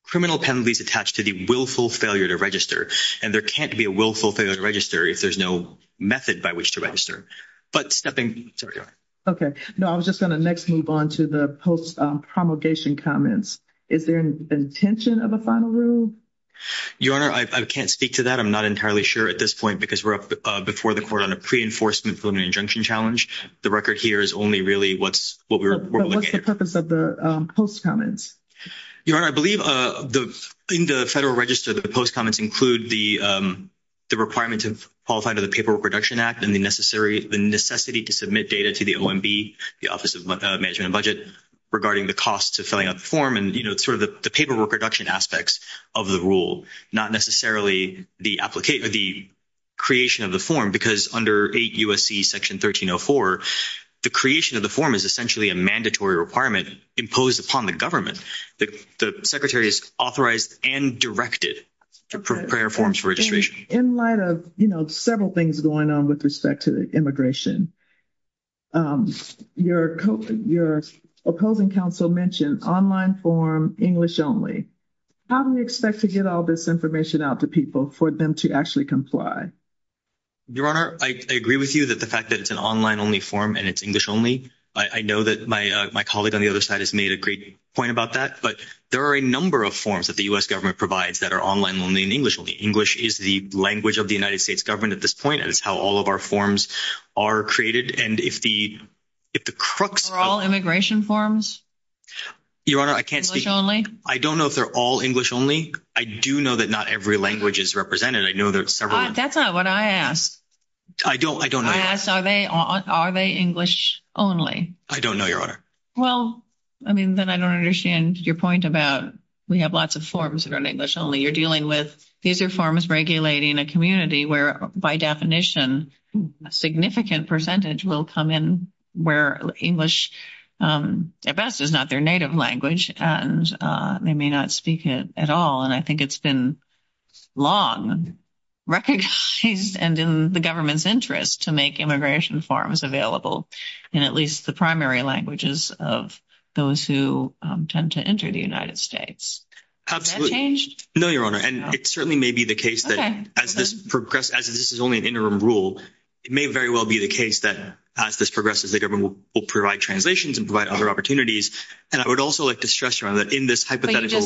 criminal penalties attached to the willful failure to register and there can't be a willful failure to register if there's no method by which to register but stepping okay no I was just going to next move on to the post promulgation comments is there an intention of a final rule your honor I can't speak to that I'm not entirely sure at this point because we're up before the court on a pre-enforcement preliminary injunction challenge the record here is only really what's what we're what's the purpose of the post comments you are I believe the in the federal register the post comments include the the requirements of qualified of the paperwork reduction act and the necessary the necessity to submit data to the OMB the Office of Management and Budget regarding the cost to filling out the form and you know sort of the paperwork reduction aspects of the rule not necessarily the application of the creation of the form because under a USC section 1304 the creation of the form is essentially a mandatory requirement imposed upon the government that the secretary is authorized and directed to prepare forms for registration in light of you know several things going on with respect to the immigration you're coaching your opposing counsel mentioned online form English only how do we expect to get all this information out to people for them to actually comply your honor I agree with you that the fact that it's an online only form and it's English only I know that my my colleague on the other side has made a point about that but there are a number of forms that the US government provides that are online only in English only English is the language of the United States government at this point and it's how all of our forms are created and if the if the crooks are all immigration forms your honor I can't speak only I don't know if they're all English only I do know that not every language is represented I know there's several that's not what I asked I don't I don't they are they English only I don't know your honor well I mean then I don't understand your point about we have lots of forms around English only you're dealing with these reforms regulating a community where by definition a significant percentage will come in where English at best is not their native language and they may not speak it at all and I think it's been long recognized and in the government's interest to make immigration forms available in at least the primary languages of those who tend to enter the United States absolutely no your honor and it certainly may be the case that as this progress as this is only an interim rule it may very well be the case that as this progresses the government will provide translations and provide other opportunities and I would also like to stress your honor that in this hypothetical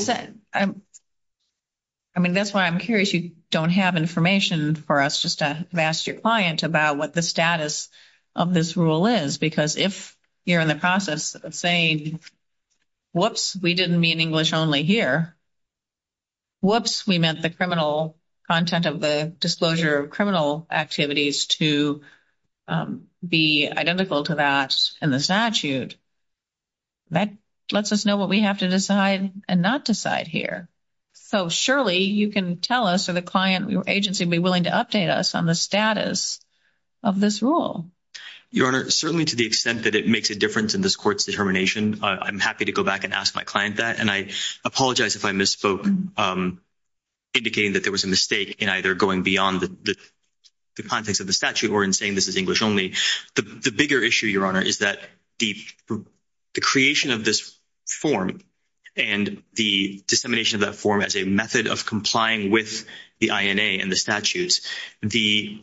I mean that's why I'm curious you don't have information for us just a master client about what the status of this rule is because if you're in the process of saying whoops we didn't mean English only here whoops we meant the criminal content of the disclosure of criminal activities to be identical to that in the statute that lets us know what we have to decide and not decide here so surely you can tell us or the client your agency be willing to update us on the status of this rule your honor certainly to the extent that it makes a difference in this courts determination I'm happy to go back and ask my client that and I apologize if I misspoke indicating that there was a mistake in either going beyond the context of the statute or in saying this English only the bigger issue your honor is that the creation of this form and the dissemination of that form as a method of complying with the INA and the statutes the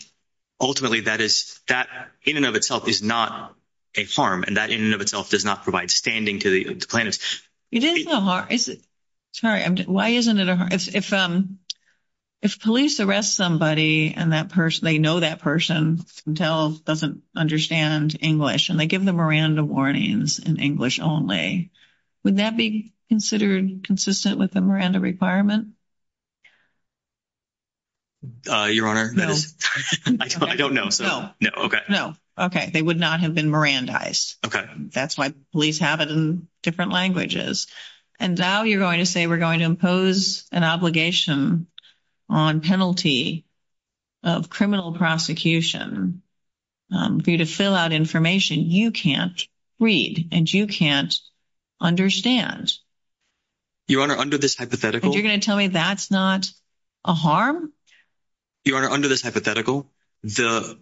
ultimately that is that in and of itself is not a farm and that in and of itself does not provide standing to the plaintiffs you didn't know how is it sorry I'm why isn't it if if police arrest somebody and that person they know that person tells doesn't understand English and they give the Miranda warnings in English only would that be considered consistent with the Miranda requirement your honor no I don't know no okay no okay they would not have been Miranda ice okay that's why police have it in different languages and now you're going to say we're going to impose an obligation on penalty of criminal prosecution due to fill out information you can't read and you can't understand your honor under this hypothetical you're going to tell me that's not a harm you are under this hypothetical the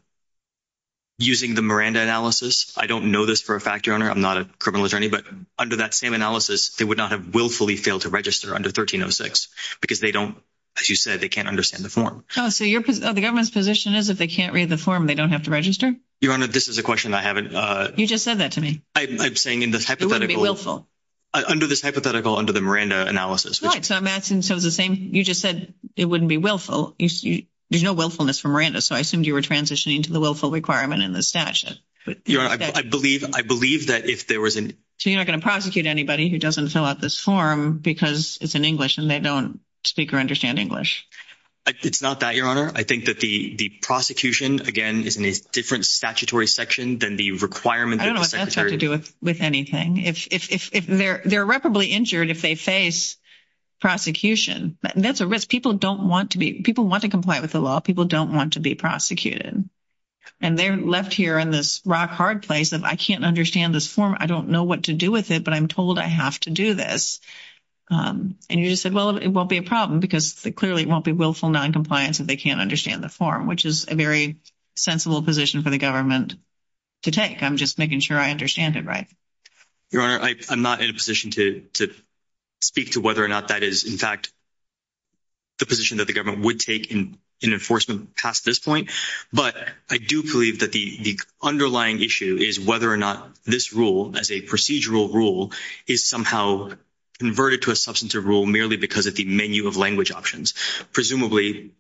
using the Miranda analysis I don't know this for a fact your honor I'm not a criminal attorney but under that same analysis they would not have willfully failed to register under 1306 because they don't as you said they can't understand the form so you're the government's position is that they can't read the form they don't have to register your honor this is a question I haven't you just said that to me I'm saying in the hypothetical under this hypothetical under the Miranda analysis so the same you just said it wouldn't be willful you see there's no willfulness from Miranda so I assumed you were transitioning to the willful requirement in the stashes but I believe I believe that if there wasn't so you're in English and they don't speak or understand English it's not that your honor I think that the the prosecution again is a different statutory section than the requirement I don't know what that's have to do with with anything if they're they're reparably injured if they face prosecution that's a risk people don't want to be people want to comply with the law people don't want to be prosecuted and they're left here in this rock-hard place that I can't understand this form I don't know what to do with it but I'm told I have to do this and you said well it won't be a problem because clearly it won't be willful non-compliance and they can't understand the form which is a very sensible position for the government to take I'm just making sure I understand it right your honor I'm not in a position to speak to whether or not that is in fact the position that the government would take in an enforcement past this point but I do believe that the underlying issue is whether or not this rule as a procedural rule is somehow converted to a substantive rule merely because of the menu of language options presumably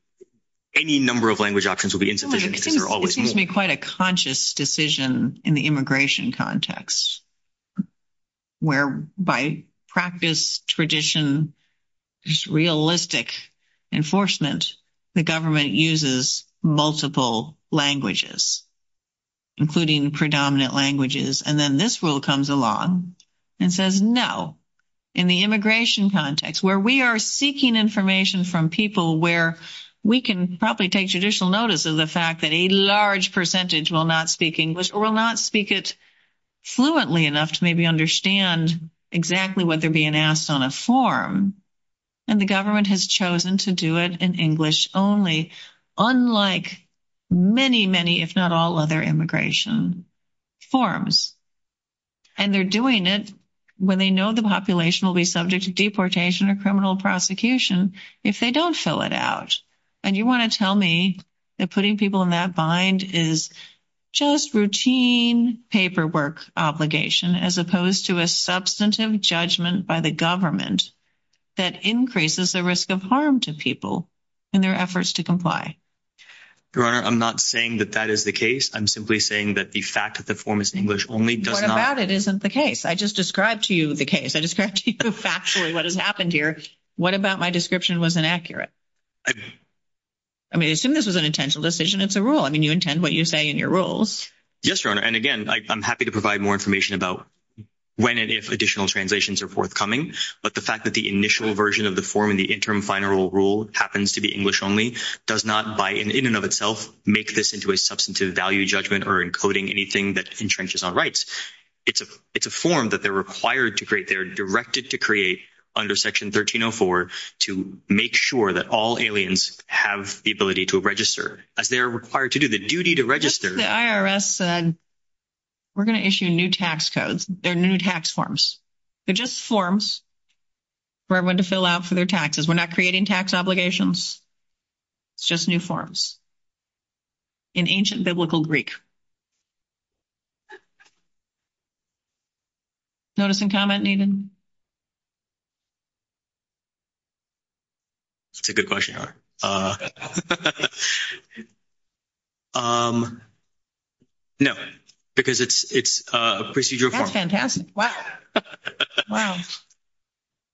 any number of language options will be insufficient they're always me quite a conscious decision in the immigration context where by practice tradition just realistic enforcement the government uses multiple languages including predominant languages and then this rule comes along and says no in the immigration context where we are seeking information from people where we can probably take judicial notice of the fact that a large percentage will not speak English or will not speak it fluently enough to maybe understand exactly what they're being asked on a form and the government has chosen to do it in English only unlike many many if not all other immigration forms and they're doing it when they know the population will be subject to deportation or criminal prosecution if they don't fill it out and you want to tell me that putting people in that bind is just routine paperwork obligation as opposed to a substantive judgment by the government that increases the risk of harm to people in their efforts to comply your honor I'm not saying that that is the case I'm simply saying that the fact that the form is in English only doesn't it isn't the case I just described to you the case I described to you factually what has happened here what about my description was inaccurate I mean as soon as this is an intentional decision it's a rule I mean you intend what you say in your rules yes your honor and again I'm happy to provide more information about when and if additional translations are forthcoming but the fact that the initial version of the form in the interim final rule happens to be English only does not by in and of itself make this into a substantive value judgment or encoding anything that infringes on rights it's a it's a form that they're required to create they're directed to create under section 1304 to make sure that all aliens have the ability to register as they're required to do the duty to register the IRS said we're gonna issue new tax codes they're new tax forms they're just forms for everyone to fill out for their taxes we're not creating tax obligations it's just new forms in ancient biblical Greek notice and comment needed it's a good question uh no because it's it's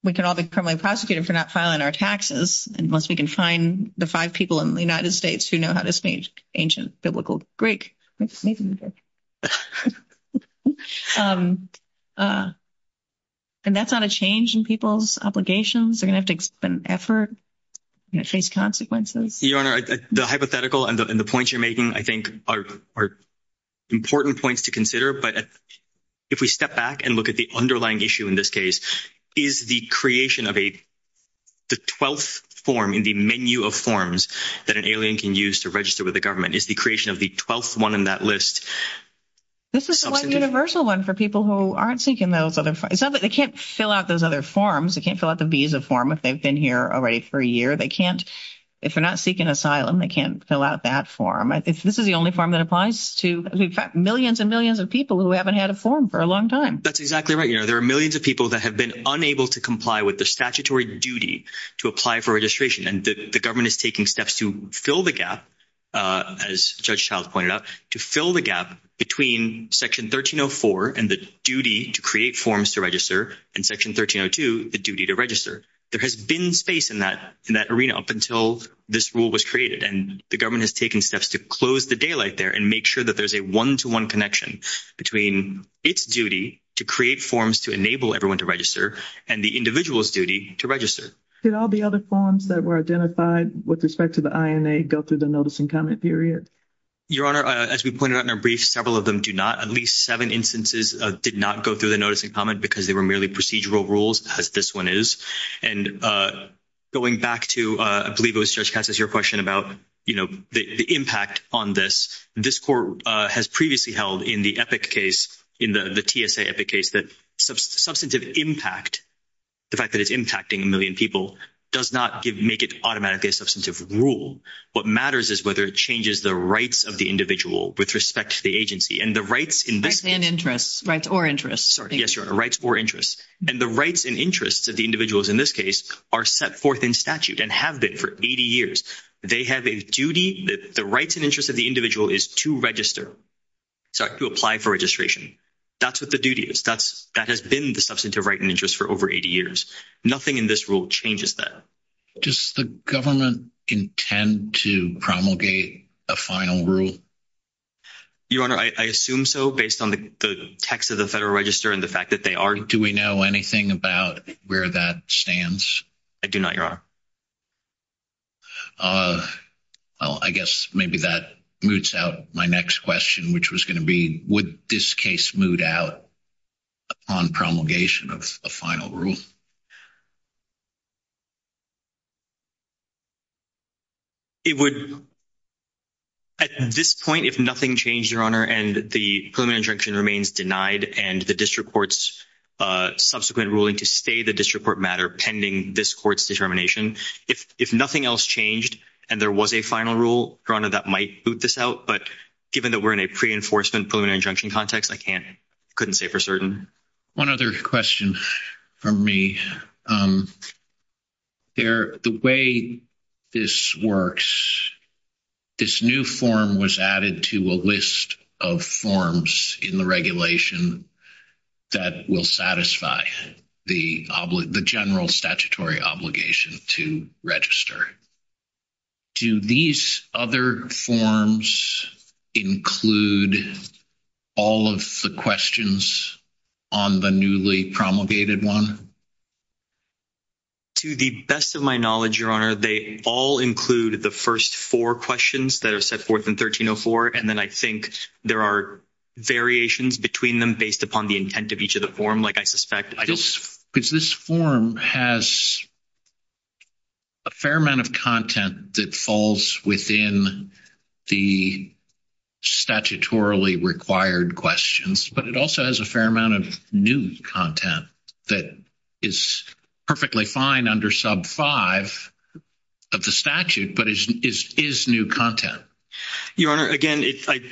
we can all be permanently prosecuted for not filing our taxes and once we can find the five people in the United States who know how this means ancient biblical Greek and that's not a change in people's obligations they're gonna take an effort face consequences the hypothetical and the points you're making I think are important points to consider but if we step back and look at the underlying issue in this case is the creation of a the twelfth form in the menu of forms that an alien can use to register with the government is the creation of the twelfth one in that list this is one universal one for people who aren't seeking those other five but they can't fill out those other forms they can't fill out the visa form if they've been here already for a year they can't if they're not seeking asylum they can't fill out that form it's this is the only form that applies to millions and millions of people who haven't had a form for a long time that's exactly right there are millions of people that have been unable to comply with the statutory duty to apply for registration and the government is taking steps to fill the gap as Judge Childs pointed out to fill the gap between section 1304 and duty to create forms to register and section 1302 the duty to register there has been space in that in that arena up until this rule was created and the government has taken steps to close the daylight there and make sure that there's a one-to-one connection between its duty to create forms to enable everyone to register and the individual's duty to register did all the other forms that were identified with respect to the INA go through the notice and comment period your honor as we pointed out in a brief several of them do not at least seven instances of did not go through the notice and comment because they were merely procedural rules as this one is and going back to I believe it was just as your question about you know the impact on this this court has previously held in the epic case in the TSA epic case that substantive impact the fact that it's impacting a million people does not give make it automatically a substantive rule what matters is whether it changes the rights of the individual with respect to the agency and the rights in this an interest rights or interest yes your rights or interest and the rights and interests of the individuals in this case are set forth in statute and have been for 80 years they have a duty that the rights and interests of the individual is to register so I could apply for registration that's what the duty is that's that has been the substantive right and interest for over 80 years nothing in this rule changes that just the government intend to promulgate a final rule your honor I assume so based on the text of the Federal Register and the fact that they are do we know anything about where that stands I do not your well I guess maybe that moots out my next question which was going to be would this case moved out on promulgation of a final rule it would at this point if nothing changed your honor and the permanent junction remains denied and the district courts subsequent ruling to stay the district court matter pending this court's determination if if nothing else changed and there was a final rule runner that might boot this out but given that we're in a pre-enforcement pulling injunction context I can't couldn't say for certain one other question for me they're the way this works this new form was added to a list of forms in the regulation that will satisfy the public the general statutory obligation to register to these other forms include all of the questions on the newly promulgated one to the best of my knowledge your honor they all include the first four questions that are set forth in 1304 and then I think there are variations between them based upon the intent of each of the form like I suspect I just because this form has a fair amount of content that falls within the statutorily required questions but it also has a fair amount of new content that is perfectly fine under sub 5 of the statute but it is new content your honor again it's like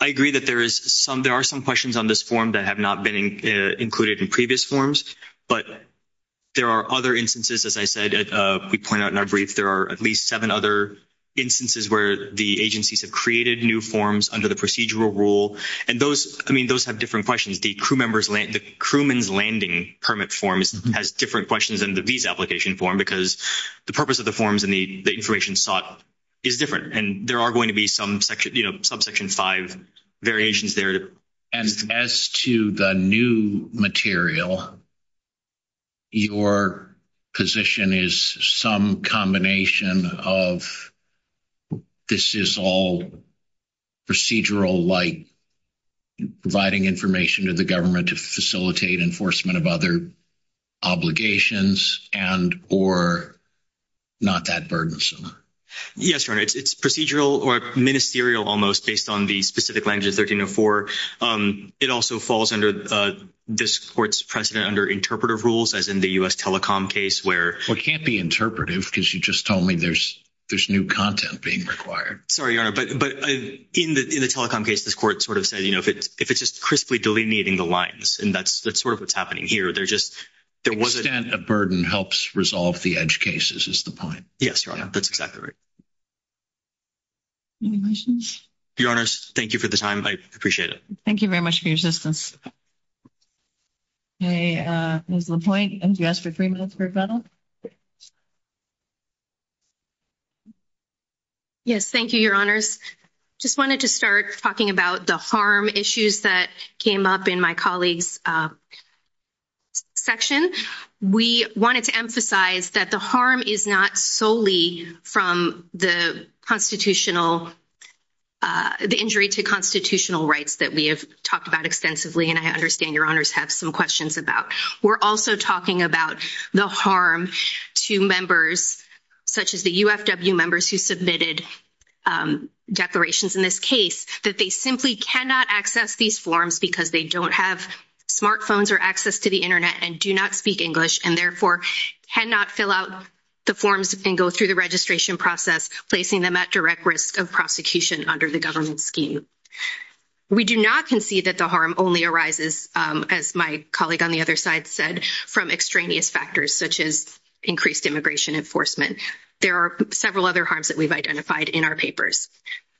I agree that there is some there are some questions on this form that have not been included in this forms but there are other instances as I said we point out in our brief there are at least seven other instances where the agencies have created new forms under the procedural rule and those I mean those have different questions the crew members land the crewman's landing permit forms has different questions in the visa application form because the purpose of the forms and the information sought is different and there are going to be some subsection five variations there and as to the new material your position is some combination of this is all procedural like providing information to the government to facilitate enforcement of other obligations and or not that yes your honor it's procedural or ministerial almost based on the specific languages 1304 it also falls under this court's precedent under interpretive rules as in the u.s. telecom case where it can't be interpretive because you just told me there's there's new content being required sorry but in the telecom case this court sort of said you know if it's just crisply delineating the lines and that's that's sort of what's happening here they're just there was a burden helps resolve the edge cases is the point yes your honor thank you for the time I appreciate it thank you very much for your assistance hey there's no point and yes for three minutes for a battle yes thank you your honors just wanted to start talking about the harm issues that came up in my colleagues section we wanted to emphasize that the harm is not solely from the constitutional the injury to constitutional rights that we have talked about extensively and I understand your honors have some questions about we're also talking about the harm to members such as the UFW members who submitted declarations in this case that they simply cannot access these forms because they don't have smartphones or access to the internet and do not speak English and therefore cannot fill out the forms and go through the registration process placing them at direct risk of prosecution under the government scheme we do not concede that the harm only arises as my colleague on the other side said from extraneous factors such as increased immigration enforcement there are several other harms that we've identified in our papers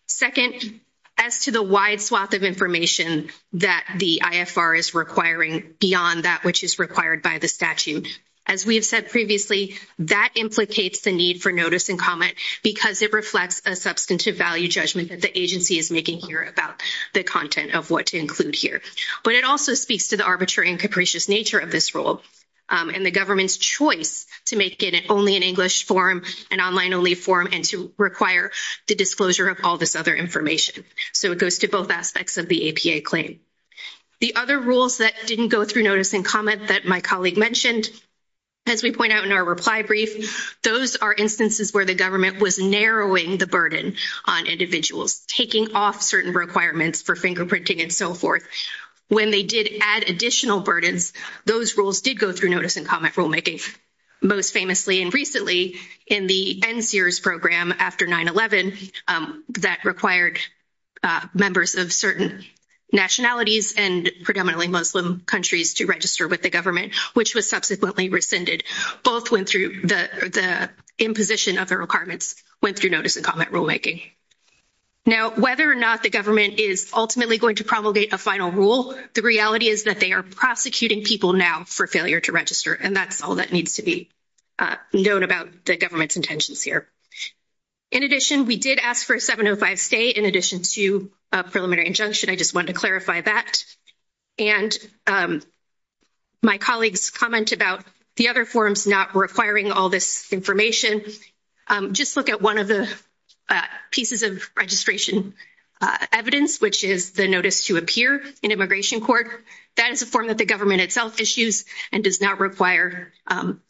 second as to the wide swath of information that the IFR is requiring beyond that which is required by the statute as we have said previously that implicates the need for notice and comment because it reflects a substantive value judgment that the agency is making here about the content of what to include here but it also speaks to the arbitrary and capricious nature of this role and the government's choice to make it only an English form an online only form and to require the disclosure of all this other information so it goes to both aspects of the APA claim the other rules that didn't go through notice and comment that my colleague mentioned as we point out in our reply brief those are instances where the government was narrowing the burden on individuals taking off certain requirements for fingerprinting and so forth when they did add additional burdens those rules did go through notice and comment rulemaking most famously and recently in the end Sears program after 9-11 that required members of certain nationalities and predominantly Muslim countries to register with the government which was subsequently rescinded both went through the imposition of the requirements went through notice and comment rulemaking now whether or not the government is ultimately going to promulgate a final rule the reality is that they are prosecuting people now for failure to register and that's all that needs to be known about the government's intentions here in addition we did ask for a 705 stay in addition to a preliminary injunction I just want to clarify that and my colleagues comment about the other forms not requiring all this information just look at one of the pieces of registration evidence which is the notice to appear in immigration court that is the form that the government itself issues and does not require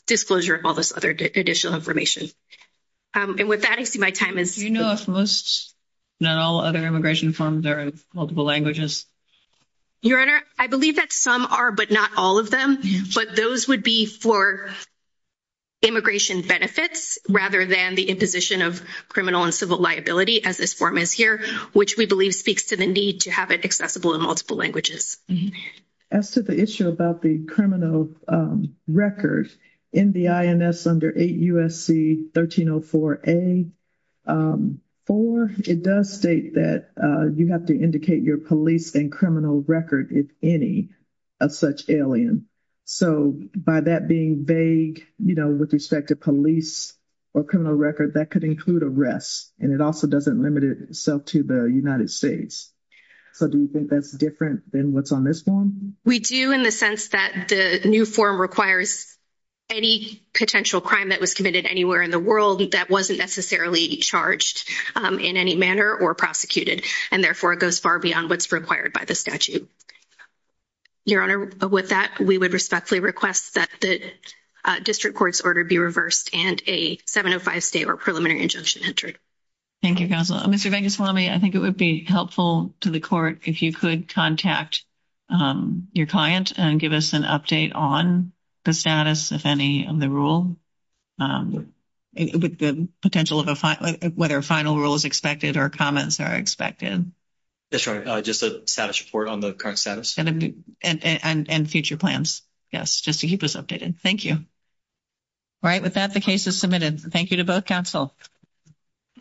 disclosure of all this other additional information and with that I see my time is you know if most now other immigration funds are in multiple languages your honor I believe that some are but not all of them but those would be for immigration benefits rather than the imposition of criminal and civil liability as this form is here which we believe speaks to the need to have it accessible in multiple languages as to the issue about the criminal records in the INS under a USC 1304 a or it does state that you have to indicate your police and criminal record if any of such alien so by that being vague you know with respect to police or criminal record that could include arrests and it also doesn't limit itself to the United States so do you think that's different than what's on this one we do in the sense that the new form requires any potential crime that was committed anywhere in the world that wasn't necessarily charged in any manner or prosecuted and therefore it goes far beyond what's required by the statute your honor with that we would respectfully request that the district courts order be reversed and a 705 state or preliminary injunction entered thank you thank you Swami I think it would be helpful to the court if you could contact your client and give us an update on the status if any of the rule with the potential of a fight what our final rule is expected or comments are expected that's right just a status report on the current status and and future plans yes just to keep us updated thank you right with that the case is thank you to both counsel